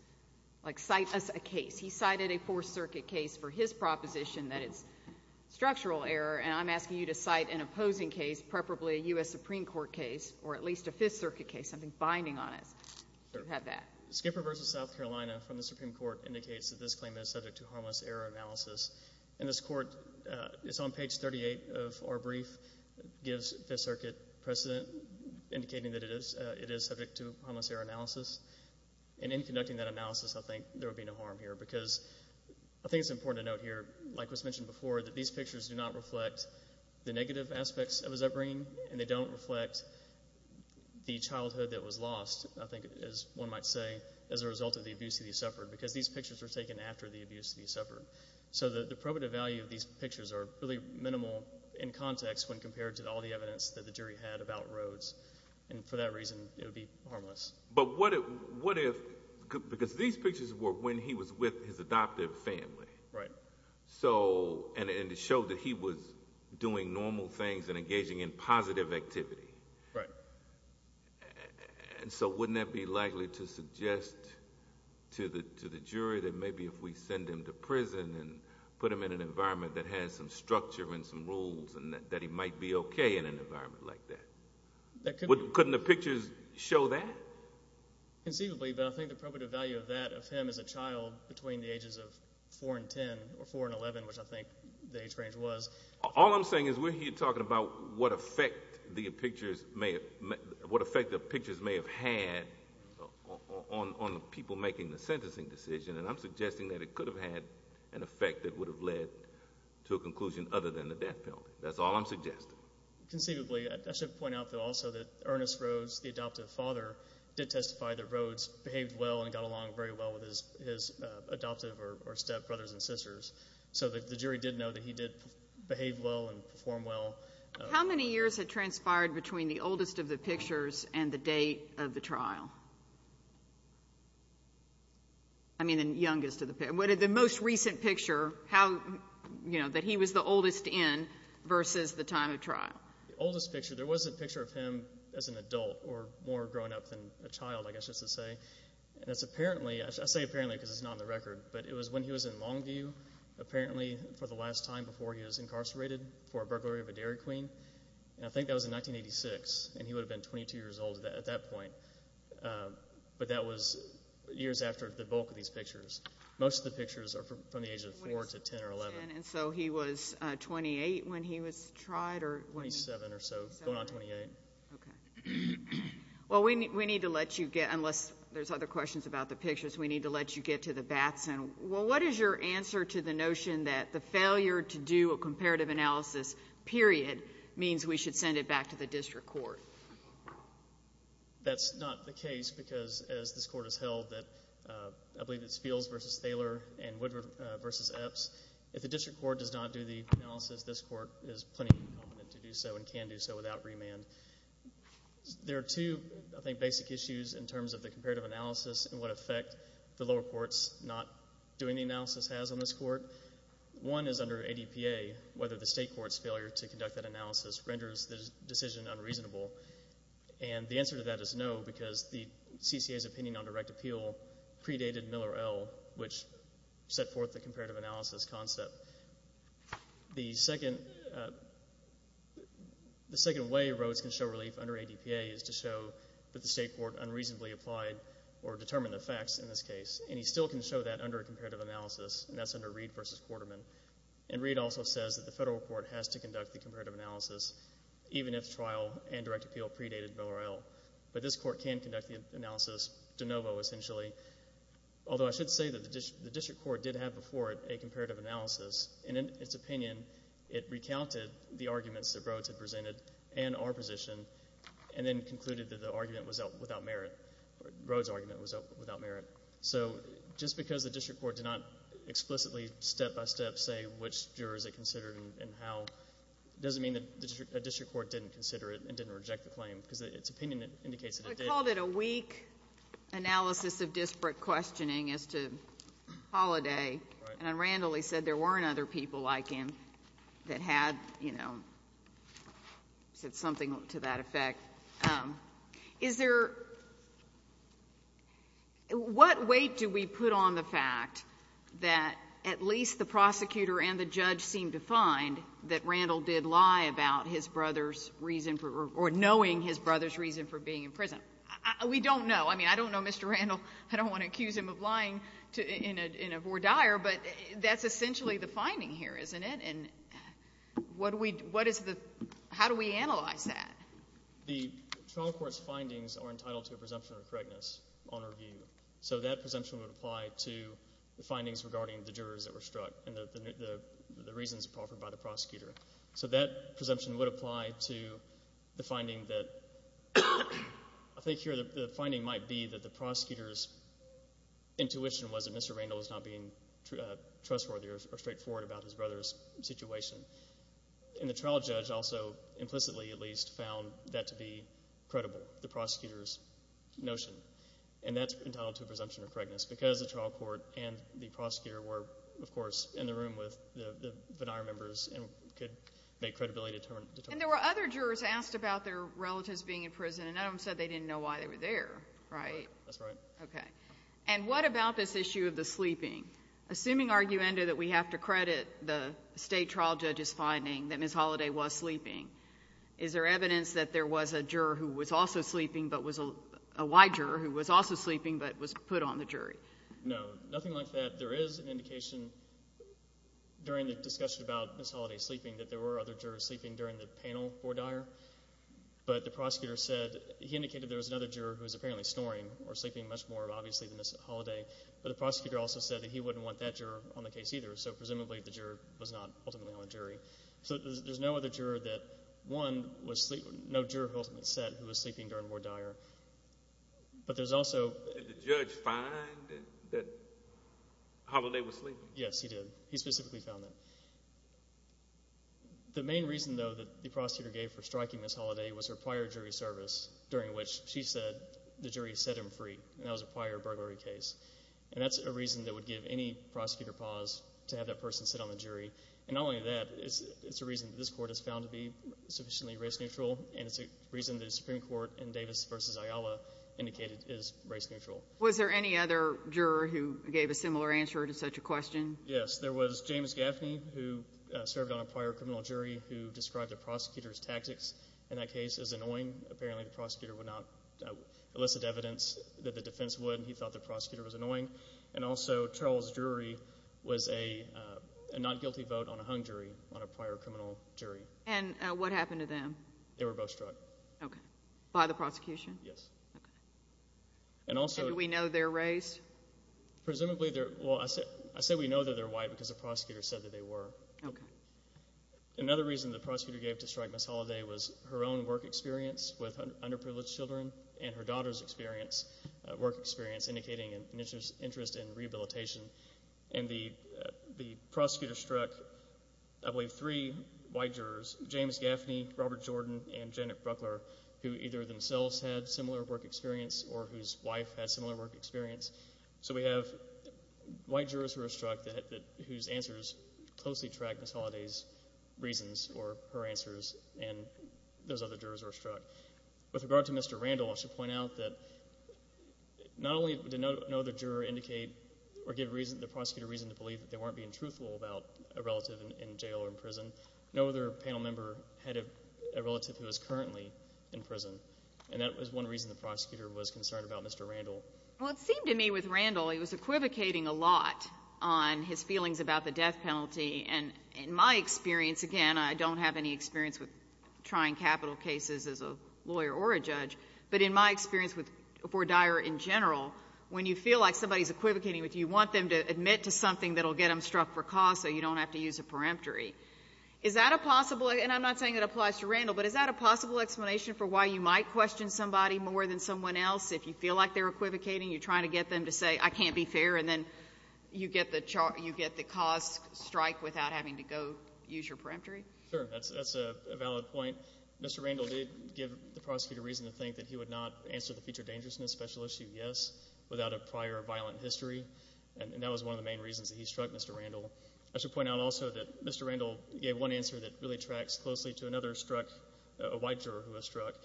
like cite us a case. He cited a Fourth Circuit case for his proposition that it's structural error, and I'm asking you to cite an opposing case, preferably a U.S. Supreme Court case or at least a Fifth Circuit case, something binding on it. You have that. Skipper v. South Carolina from the Supreme Court indicates that this claim is subject to harmless error analysis. And this court, it's on page 38 of our brief, gives Fifth Circuit precedent indicating that it is subject to harmless error analysis. And in conducting that analysis, I think there would be no harm here because I think it's important to note here, like was mentioned before, that these pictures do not reflect the negative aspects of his upbringing. And they don't reflect the childhood that was lost, I think as one might say, as a result of the abuse that he suffered because these pictures were taken after the abuse that he suffered. So the probative value of these pictures are really minimal in context when compared to all the evidence that the jury had about Rhodes. And for that reason, it would be harmless. But what if—because these pictures were when he was with his adoptive family. Right. And it showed that he was doing normal things and engaging in positive activity. Right. And so wouldn't that be likely to suggest to the jury that maybe if we send him to prison and put him in an environment that has some structure and some rules and that he might be okay in an environment like that? Couldn't the pictures show that? Conceivably, but I think the probative value of that of him as a child between the ages of 4 and 10 or 4 and 11, which I think the age range was— All I'm saying is we're here talking about what effect the pictures may have had on people making the sentencing decision, and I'm suggesting that it could have had an effect that would have led to a conclusion other than the death penalty. That's all I'm suggesting. Conceivably, I should point out also that Ernest Rhodes, the adoptive father, did testify that Rhodes behaved well and got along very well with his adoptive or stepbrothers and sisters. So the jury did know that he did behave well and perform well. How many years had transpired between the oldest of the pictures and the date of the trial? I mean the youngest of the pictures. What are the most recent pictures that he was the oldest in versus the time of trial? The oldest picture, there was a picture of him as an adult or more grown up than a child, I guess just to say. I say apparently because it's not on the record, but it was when he was in Longview, apparently for the last time before he was incarcerated for a burglary of a dairy queen. I think that was in 1986, and he would have been 22 years old at that point. But that was years after the bulk of these pictures. Most of the pictures are from the age of 4 to 10 or 11. So he was 28 when he was tried? 27 or so, going on 28. Okay. Well, we need to let you get, unless there's other questions about the pictures, we need to let you get to the Batson. Well, what is your answer to the notion that the failure to do a comparative analysis, period, means we should send it back to the district court? That's not the case because, as this court has held, that I believe it's Fields v. Thaler and Woodward v. Epps. If the district court does not do the analysis, this court is plenty competent to do so and can do so without remand. There are two, I think, basic issues in terms of the comparative analysis and what effect the lower courts not doing the analysis has on this court. One is under ADPA, whether the state court's failure to conduct that analysis renders the decision unreasonable. And the answer to that is no because the CCA's opinion on direct appeal predated Miller L., which set forth the comparative analysis concept. The second way Rhodes can show relief under ADPA is to show that the state court unreasonably applied or determined the facts in this case. And he still can show that under a comparative analysis, and that's under Reed v. Quarterman. And Reed also says that the federal court has to conduct the comparative analysis, even if trial and direct appeal predated Miller L. But this court can conduct the analysis de novo, essentially. Although I should say that the district court did have before it a comparative analysis, and in its opinion it recounted the arguments that Rhodes had presented and our position and then concluded that the argument was without merit, Rhodes' argument was without merit. So just because the district court did not explicitly, step by step, say which juror is it considered and how, doesn't mean that a district court didn't consider it and didn't reject the claim because its opinion indicates that it did. I called it a weak analysis of disparate questioning as to Holliday. Right. And Randall, he said there weren't other people like him that had, you know, said something to that effect. Is there — what weight do we put on the fact that at least the prosecutor and the judge seemed to find that Randall did lie about his brother's reason for — or knowing his brother's reason for being in prison? We don't know. I mean, I don't know Mr. Randall. I don't want to accuse him of lying in a voir dire, but that's essentially the finding here, isn't it? And what do we — what is the — how do we analyze that? The trial court's findings are entitled to a presumption of correctness on review. So that presumption would apply to the findings regarding the jurors that were struck and the reasons offered by the prosecutor. So that presumption would apply to the finding that — I think here the finding might be that the prosecutor's intuition was that Mr. Randall was not being trustworthy or straightforward about his brother's situation. And the trial judge also implicitly at least found that to be credible, the prosecutor's notion. And that's entitled to a presumption of correctness because the trial court and the prosecutor were, of course, in the room with the voir dire members and could make credibility determinants. And there were other jurors asked about their relatives being in prison, and none of them said they didn't know why they were there, right? That's right. Okay. And what about this issue of the sleeping? Assuming, arguendo, that we have to credit the state trial judge's finding that Ms. Holliday was sleeping, is there evidence that there was a juror who was also sleeping but was — a white juror who was also sleeping but was put on the jury? No. Nothing like that. There is an indication during the discussion about Ms. Holliday sleeping that there were other jurors sleeping during the panel voir dire. But the prosecutor said — he indicated there was another juror who was apparently snoring or sleeping much more obviously than Ms. Holliday. But the prosecutor also said that he wouldn't want that juror on the case either, so presumably the juror was not ultimately on the jury. So there's no other juror that, one, no juror ultimately said who was sleeping during voir dire. But there's also — Did the judge find that Holliday was sleeping? Yes, he did. He specifically found that. The main reason, though, that the prosecutor gave for striking Ms. Holliday was her prior jury service during which she said the jury set him free, and that was a prior burglary case. And that's a reason that would give any prosecutor pause to have that person sit on the jury. And not only that, it's a reason that this Court has found to be sufficiently race neutral, and it's a reason that the Supreme Court in Davis v. Ayala indicated is race neutral. Was there any other juror who gave a similar answer to such a question? Yes. There was James Gaffney, who served on a prior criminal jury, who described the prosecutor's tactics in that case as annoying. Apparently the prosecutor would not elicit evidence that the defense would. He thought the prosecutor was annoying. And also Charles Drury was a not guilty vote on a hung jury on a prior criminal jury. And what happened to them? They were both struck. Okay. By the prosecution? Yes. Okay. And also— And do we know their race? Presumably they're—well, I say we know that they're white because the prosecutor said that they were. Okay. Another reason the prosecutor gave to strike Ms. Holliday was her own work experience with underprivileged children and her daughter's experience, work experience, indicating an interest in rehabilitation. And the prosecutor struck, I believe, three white jurors, James Gaffney, Robert Jordan, and Janet Bruckler, who either themselves had similar work experience or whose wife had similar work experience. So we have white jurors who were struck whose answers closely tracked Ms. Holliday's reasons or her answers, and those other jurors were struck. With regard to Mr. Randall, I should point out that not only did no other juror indicate or give the prosecutor reason to believe that they weren't being truthful about a relative in jail or in prison, no other panel member had a relative who was currently in prison. And that was one reason the prosecutor was concerned about Mr. Randall. Well, it seemed to me with Randall, he was equivocating a lot on his feelings about the death penalty. And in my experience, again, I don't have any experience with trying capital cases as a lawyer or a judge, but in my experience for Dyer in general, when you feel like somebody is equivocating with you, you want them to admit to something that will get them struck for cause so you don't have to use a peremptory. Is that a possible, and I'm not saying it applies to Randall, but is that a possible explanation for why you might question somebody more than someone else? If you feel like they're equivocating, you're trying to get them to say, I can't be fair, and then you get the cause strike without having to go use your peremptory? Sure. That's a valid point. Mr. Randall did give the prosecutor reason to think that he would not answer the future dangerousness special issue yes without a prior violent history, and that was one of the main reasons that he struck Mr. Randall. I should point out also that Mr. Randall gave one answer that really tracks closely to another struck a white juror who was struck,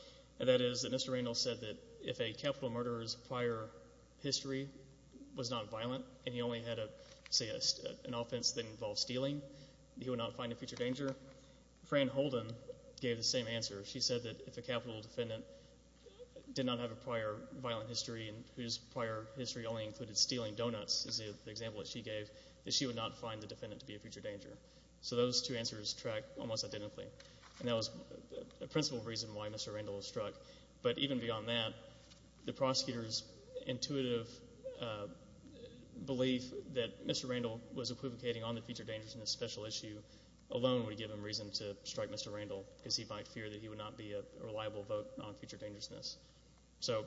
and that is that Mr. Randall said that if a capital murderer's prior history was not violent and he only had, say, an offense that involved stealing, he would not find a future danger. Fran Holden gave the same answer. She said that if a capital defendant did not have a prior violent history and whose prior history only included stealing donuts is the example that she gave, that she would not find the defendant to be a future danger. So those two answers track almost identically. And that was the principal reason why Mr. Randall was struck. But even beyond that, the prosecutor's intuitive belief that Mr. Randall was equivocating on the future dangerousness special issue alone would give him reason to strike Mr. Randall because he might fear that he would not be a reliable vote on future dangerousness. So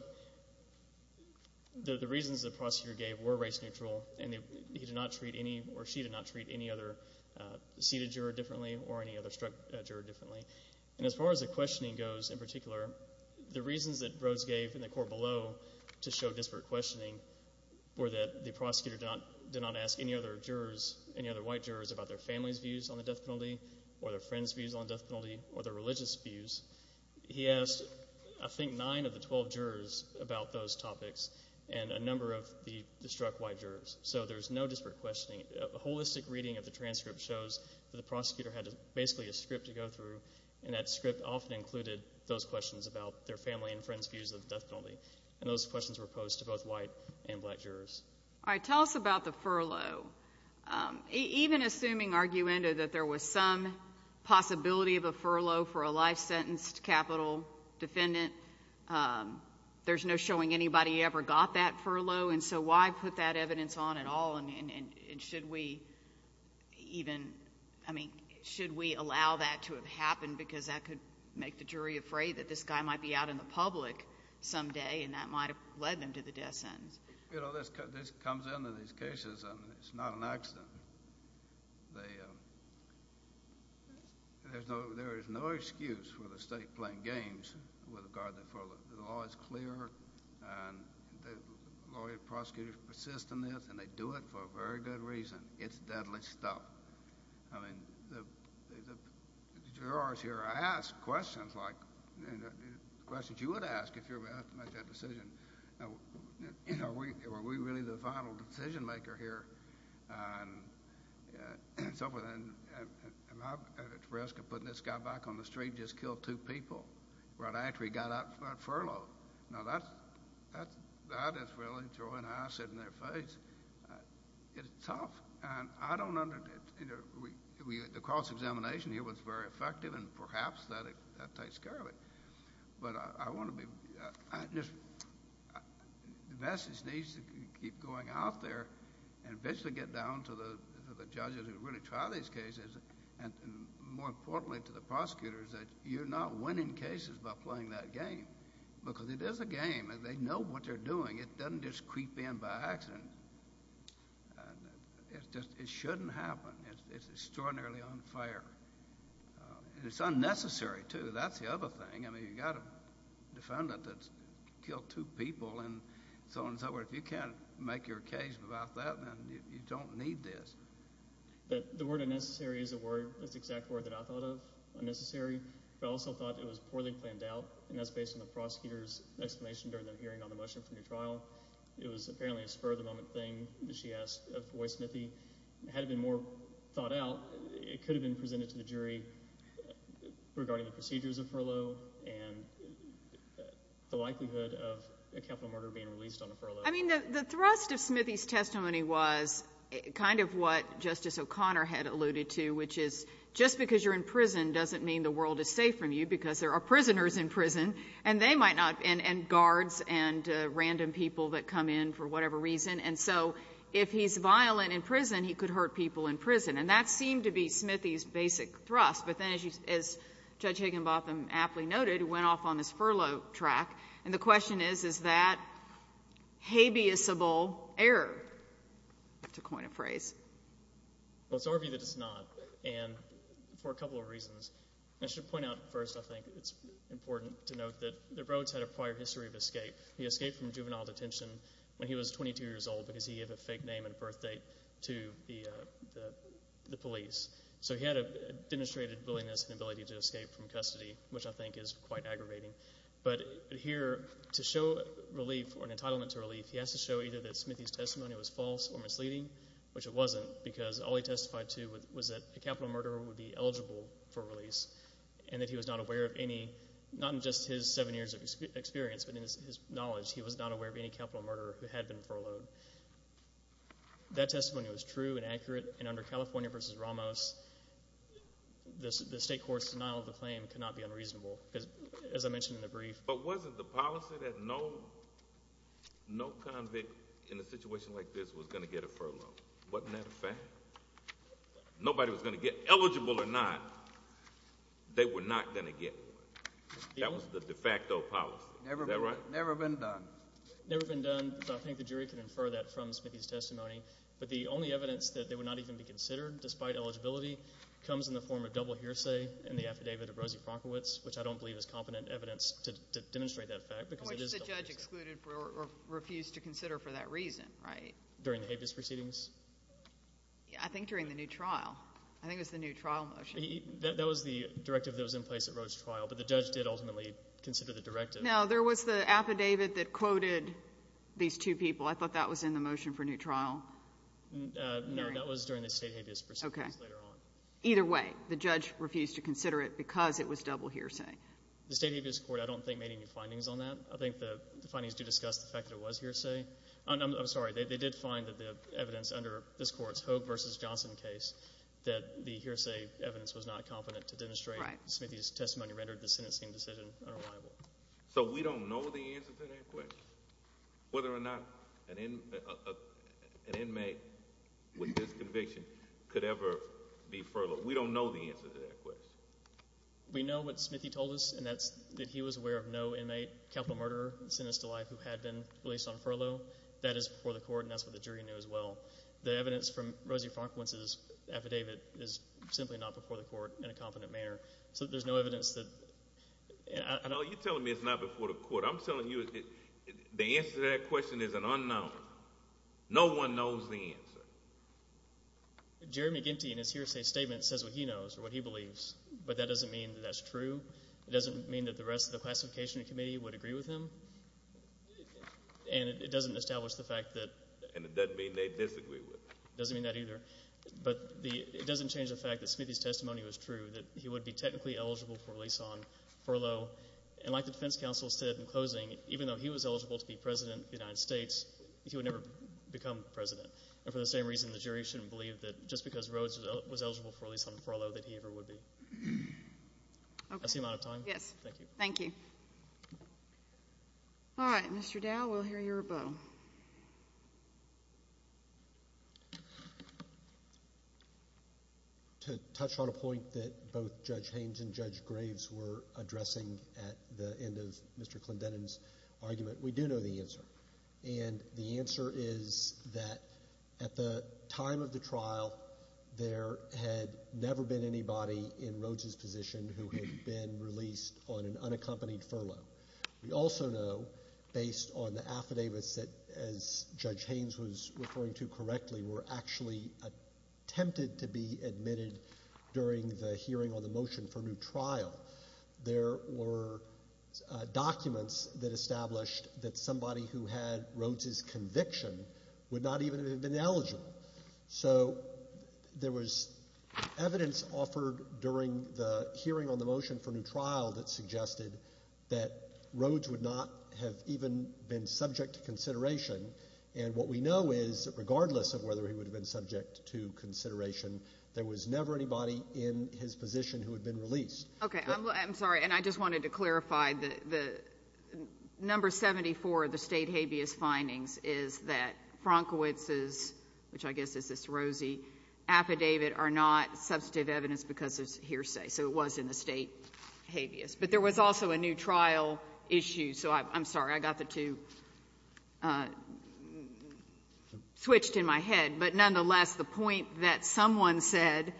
the reasons the prosecutor gave were race neutral, and he did not treat any or she did not treat any other seated juror differently or any other struck juror differently. And as far as the questioning goes in particular, the reasons that Rhodes gave in the court below to show disparate questioning were that the prosecutor did not ask any other jurors, any other white jurors about their family's views on the death penalty or their friends' views on the death penalty or their religious views. He asked, I think, nine of the 12 jurors about those topics and a number of the struck white jurors. So there's no disparate questioning. A holistic reading of the transcript shows that the prosecutor had basically a script to go through, and that script often included those questions about their family and friends' views of the death penalty. And those questions were posed to both white and black jurors. All right. Tell us about the furlough. Even assuming arguendo that there was some possibility of a furlough for a life-sentenced capital defendant, there's no showing anybody ever got that furlough. And so why put that evidence on at all? And should we even, I mean, should we allow that to have happened because that could make the jury afraid that this guy might be out in the public someday and that might have led them to the death sentence? You know, this comes into these cases, and it's not an accident. There is no excuse for the state playing games with regard to the furlough. The law is clear, and the lawyers and prosecutors persist in this, and they do it for a very good reason. It's deadly stuff. I mean, the jurors here are asked questions like questions you would ask if you were asked to make that decision. You know, are we really the final decision-maker here? Am I at risk of putting this guy back on the street and just kill two people right after he got out of furlough? Now, that is really throwing acid in their face. It's tough, and I don't understand. The cross-examination here was very effective, and perhaps that takes care of it. But I want to be—the message needs to keep going out there and eventually get down to the judges who really try these cases, and more importantly to the prosecutors that you're not winning cases by playing that game because it is a game, and they know what they're doing. It doesn't just creep in by accident. It shouldn't happen. It's extraordinarily unfair, and it's unnecessary, too. But that's the other thing. I mean, you've got a defendant that's killed two people and so on and so forth. If you can't make your case about that, then you don't need this. The word unnecessary is the exact word that I thought of, unnecessary, but I also thought it was poorly planned out, and that's based on the prosecutor's explanation during their hearing on the motion for new trial. It was apparently a spur-of-the-moment thing that she asked of Roy Smithey. Had it been more thought out, it could have been presented to the jury regarding the procedures of furlough and the likelihood of a capital murder being released on a furlough. I mean, the thrust of Smithey's testimony was kind of what Justice O'Connor had alluded to, which is just because you're in prison doesn't mean the world is safe from you because there are prisoners in prison, and they might not, and guards and random people that come in for whatever reason. And so if he's violent in prison, he could hurt people in prison, and that seemed to be Smithey's basic thrust. But then, as Judge Higginbotham aptly noted, he went off on this furlough track, and the question is, is that habeasable error? That's a coin of phrase. Well, it's our view that it's not, and for a couple of reasons. I should point out first, I think it's important to note that the Rhodes had a prior history of escape. He escaped from juvenile detention when he was 22 years old because he gave a fake name and birthdate to the police. So he had a demonstrated willingness and ability to escape from custody, which I think is quite aggravating. But here, to show relief or an entitlement to relief, he has to show either that Smithey's testimony was false or misleading, which it wasn't, because all he testified to was that a capital murderer would be eligible for release and that he was not aware of any, not in just his seven years of experience, but in his knowledge, he was not aware of any capital murderer who had been furloughed. That testimony was true and accurate, and under California v. Ramos, the state court's denial of the claim could not be unreasonable, because as I mentioned in the brief. But wasn't the policy that no convict in a situation like this was going to get a furlough? Wasn't that a fact? Nobody was going to get eligible or not. They were not going to get one. That was the de facto policy. Is that right? Never been done. Never been done, but I think the jury can infer that from Smithey's testimony. But the only evidence that they would not even be considered despite eligibility comes in the form of double hearsay in the affidavit of Rosie Fronkowitz, which I don't believe is competent evidence to demonstrate that fact because it is double hearsay. Which the judge excluded or refused to consider for that reason, right? During the habeas proceedings? I think during the new trial. I think it was the new trial motion. That was the directive that was in place at Roe's trial, but the judge did ultimately consider the directive. Now, there was the affidavit that quoted these two people. I thought that was in the motion for new trial. No, that was during the state habeas proceedings later on. Okay. Either way, the judge refused to consider it because it was double hearsay. The state habeas court I don't think made any findings on that. I think the findings do discuss the fact that it was hearsay. I'm sorry. They did find that the evidence under this Court's Hogue v. Johnson case, that the hearsay evidence was not competent to demonstrate. Right. Smithee's testimony rendered the sentencing decision unreliable. So we don't know the answer to that question. Whether or not an inmate with this conviction could ever be furloughed. We don't know the answer to that question. We know what Smithee told us, and that's that he was aware of no inmate, capital murderer, sentenced to life who had been released on furlough. That is before the Court, and that's what the jury knew as well. The evidence from Rosie Franklin's affidavit is simply not before the Court in a competent manner. So there's no evidence that— No, you're telling me it's not before the Court. I'm telling you the answer to that question is an unknown. No one knows the answer. Jeremy Ginty in his hearsay statement says what he knows or what he believes, but that doesn't mean that that's true. It doesn't mean that the rest of the classification committee would agree with him. And it doesn't establish the fact that— And it doesn't mean they disagree with him. It doesn't mean that either. But it doesn't change the fact that Smithee's testimony was true, that he would be technically eligible for release on furlough. And like the defense counsel said in closing, even though he was eligible to be president of the United States, he would never become president. And for the same reason, the jury shouldn't believe that just because Rhodes was eligible for release on furlough that he ever would be. Okay. I see a lot of time. Yes. Thank you. Thank you. All right. Mr. Dow, we'll hear your vote. To touch on a point that both Judge Haynes and Judge Graves were addressing at the end of Mr. Clendenin's argument, we do know the answer. And the answer is that at the time of the trial, there had never been anybody in Rhodes' position who had been released on an unaccompanied furlough. We also know, based on the affidavits that, as Judge Haynes was referring to correctly, were actually attempted to be admitted during the hearing on the motion for new trial, there were documents that established that somebody who had Rhodes' conviction would not even have been eligible. So there was evidence offered during the hearing on the motion for new trial that suggested that Rhodes would not have even been subject to consideration. And what we know is, regardless of whether he would have been subject to consideration, there was never anybody in his position who had been released. Okay. I'm sorry. And I just wanted to clarify the number 74, the state habeas findings, is that Frankowitz's, which I guess is this rosy affidavit, are not substantive evidence because it's hearsay. So it was in the state habeas. But there was also a new trial issue. So I'm sorry. I got the two switched in my head. But nonetheless, the point that someone said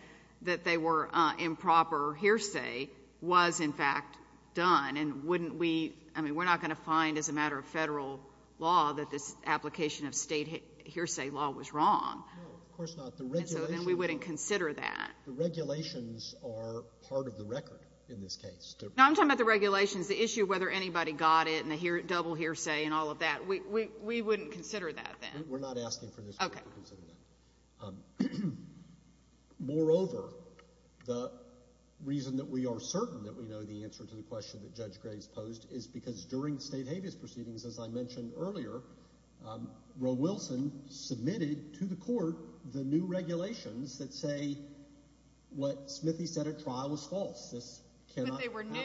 that they were improper hearsay was, in fact, done. And wouldn't we — I mean, we're not going to find, as a matter of Federal law, that this application of state hearsay law was wrong. No, of course not. The regulations — And so then we wouldn't consider that. The regulations are part of the record in this case. Now, I'm talking about the regulations. The issue of whether anybody got it and the double hearsay and all of that, we wouldn't consider that then. We're not asking for this. Okay. We wouldn't consider that. Moreover, the reason that we are certain that we know the answer to the question that Judge Graves posed is because during state habeas proceedings, as I mentioned earlier, Roe Wilson submitted to the court the new regulations that say what Smithee said at trial was false. This cannot — But they were new.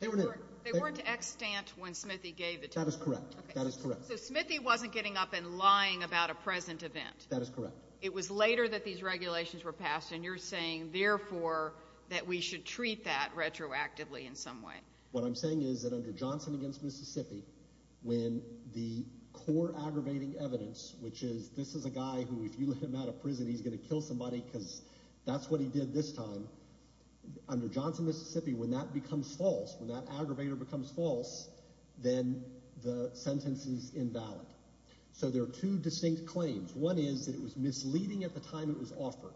They were new. They weren't extant when Smithee gave the testimony. That is correct. That is correct. So Smithee wasn't getting up and lying about a present event. That is correct. It was later that these regulations were passed, and you're saying, therefore, that we should treat that retroactively in some way. What I'm saying is that under Johnson against Mississippi, when the core aggravating evidence, which is this is a guy who, if you let him out of prison, he's going to kill somebody because that's what he did this time, under Johnson against Mississippi, when that becomes false, when that aggravator becomes false, then the sentence is invalid. So there are two distinct claims. One is that it was misleading at the time it was offered.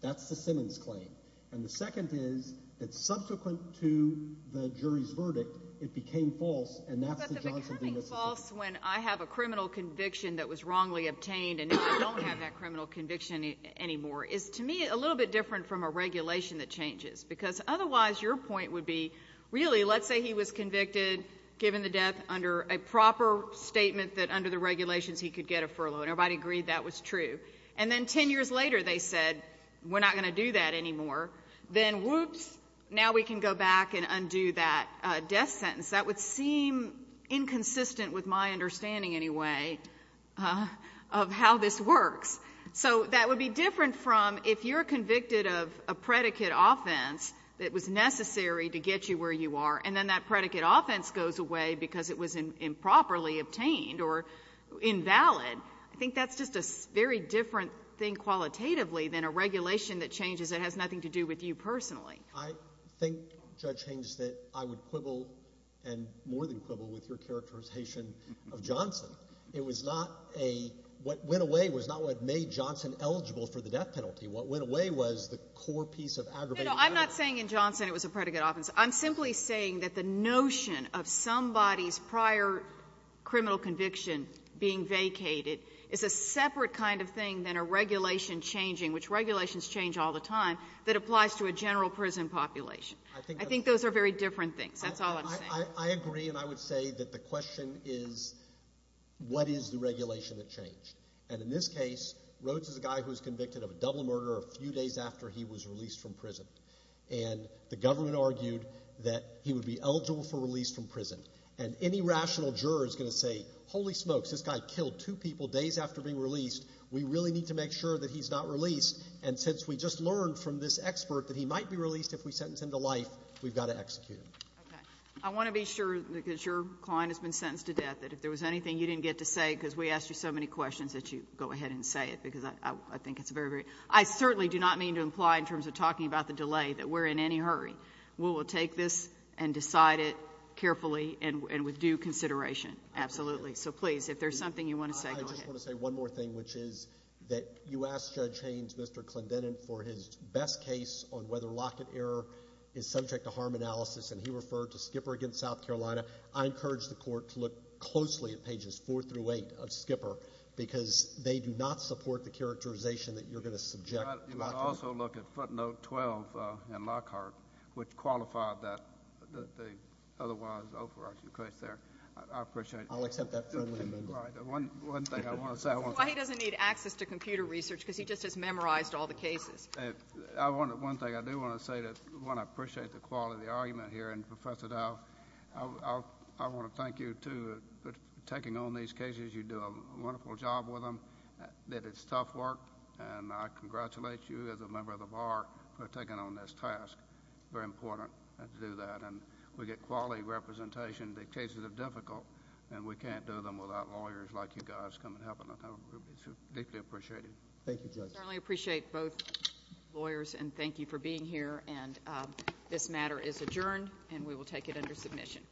That's the Simmons claim. And the second is that subsequent to the jury's verdict, it became false, and that's the Johnson against Mississippi. But the becoming false when I have a criminal conviction that was wrongly obtained and now I don't have that criminal conviction anymore is, to me, a little bit different from a regulation that changes. Because otherwise your point would be, really, let's say he was convicted, given the death, under a proper statement that under the regulations he could get a furlough, and everybody agreed that was true. And then ten years later they said, we're not going to do that anymore. Then, whoops, now we can go back and undo that death sentence. That would seem inconsistent with my understanding, anyway, of how this works. So that would be different from if you're convicted of a predicate offense that was necessary to get you where you are, and then that predicate offense goes away because it was improperly obtained or invalid. I think that's just a very different thing qualitatively than a regulation that changes that has nothing to do with you personally. I think, Judge Haynes, that I would quibble and more than quibble with your characterization of Johnson. It was not a – what went away was not what made Johnson eligible for the death penalty. What went away was the core piece of aggravating evidence. No, no, I'm not saying in Johnson it was a predicate offense. I'm simply saying that the notion of somebody's prior criminal conviction being vacated is a separate kind of thing than a regulation changing, which regulations change all the time, that applies to a general prison population. I think those are very different things. That's all I'm saying. I agree. And I would say that the question is, what is the regulation that changed? And in this case, Rhodes is a guy who was convicted of a double murder a few days after he was released from prison. And the government argued that he would be eligible for release from prison. And any rational juror is going to say, holy smokes, this guy killed two people days after being released. We really need to make sure that he's not released. And since we just learned from this expert that he might be released if we sentence him to life, we've got to execute him. Okay. I want to be sure, because your client has been sentenced to death, that if there was anything you didn't get to say, because we asked you so many questions, that you go ahead and say it, because I think it's a very, very – I certainly do not mean to imply in terms of talking about the delay that we're in any hurry. We will take this and decide it carefully and with due consideration. Absolutely. So please, if there's something you want to say, go ahead. I just want to say one more thing, which is that you asked Judge Haynes, Mr. Clendenin, for his best case on whether Lockett error is subject to harm analysis, and he referred to Skipper against South Carolina. I encourage the Court to look closely at pages 4 through 8 of Skipper, because they do not support the characterization that you're going to subject Lockett. You might also look at footnote 12 in Lockhart, which qualified that otherwise overarching case there. I appreciate it. I'll accept that friendly amendment. All right. One thing I want to say. That's why he doesn't need access to computer research, because he just has memorized all the cases. One thing I do want to say, one, I appreciate the quality of the argument here. And, Professor Dow, I want to thank you, too, for taking on these cases. You do a wonderful job with them. It is tough work, and I congratulate you as a member of the Bar for taking on this task. Very important to do that. And we get quality representation. The cases are difficult, and we can't do them without lawyers like you guys coming to help. I deeply appreciate it. Thank you, Judge. I certainly appreciate both lawyers, and thank you for being here. And this matter is adjourned, and we will take it under submission.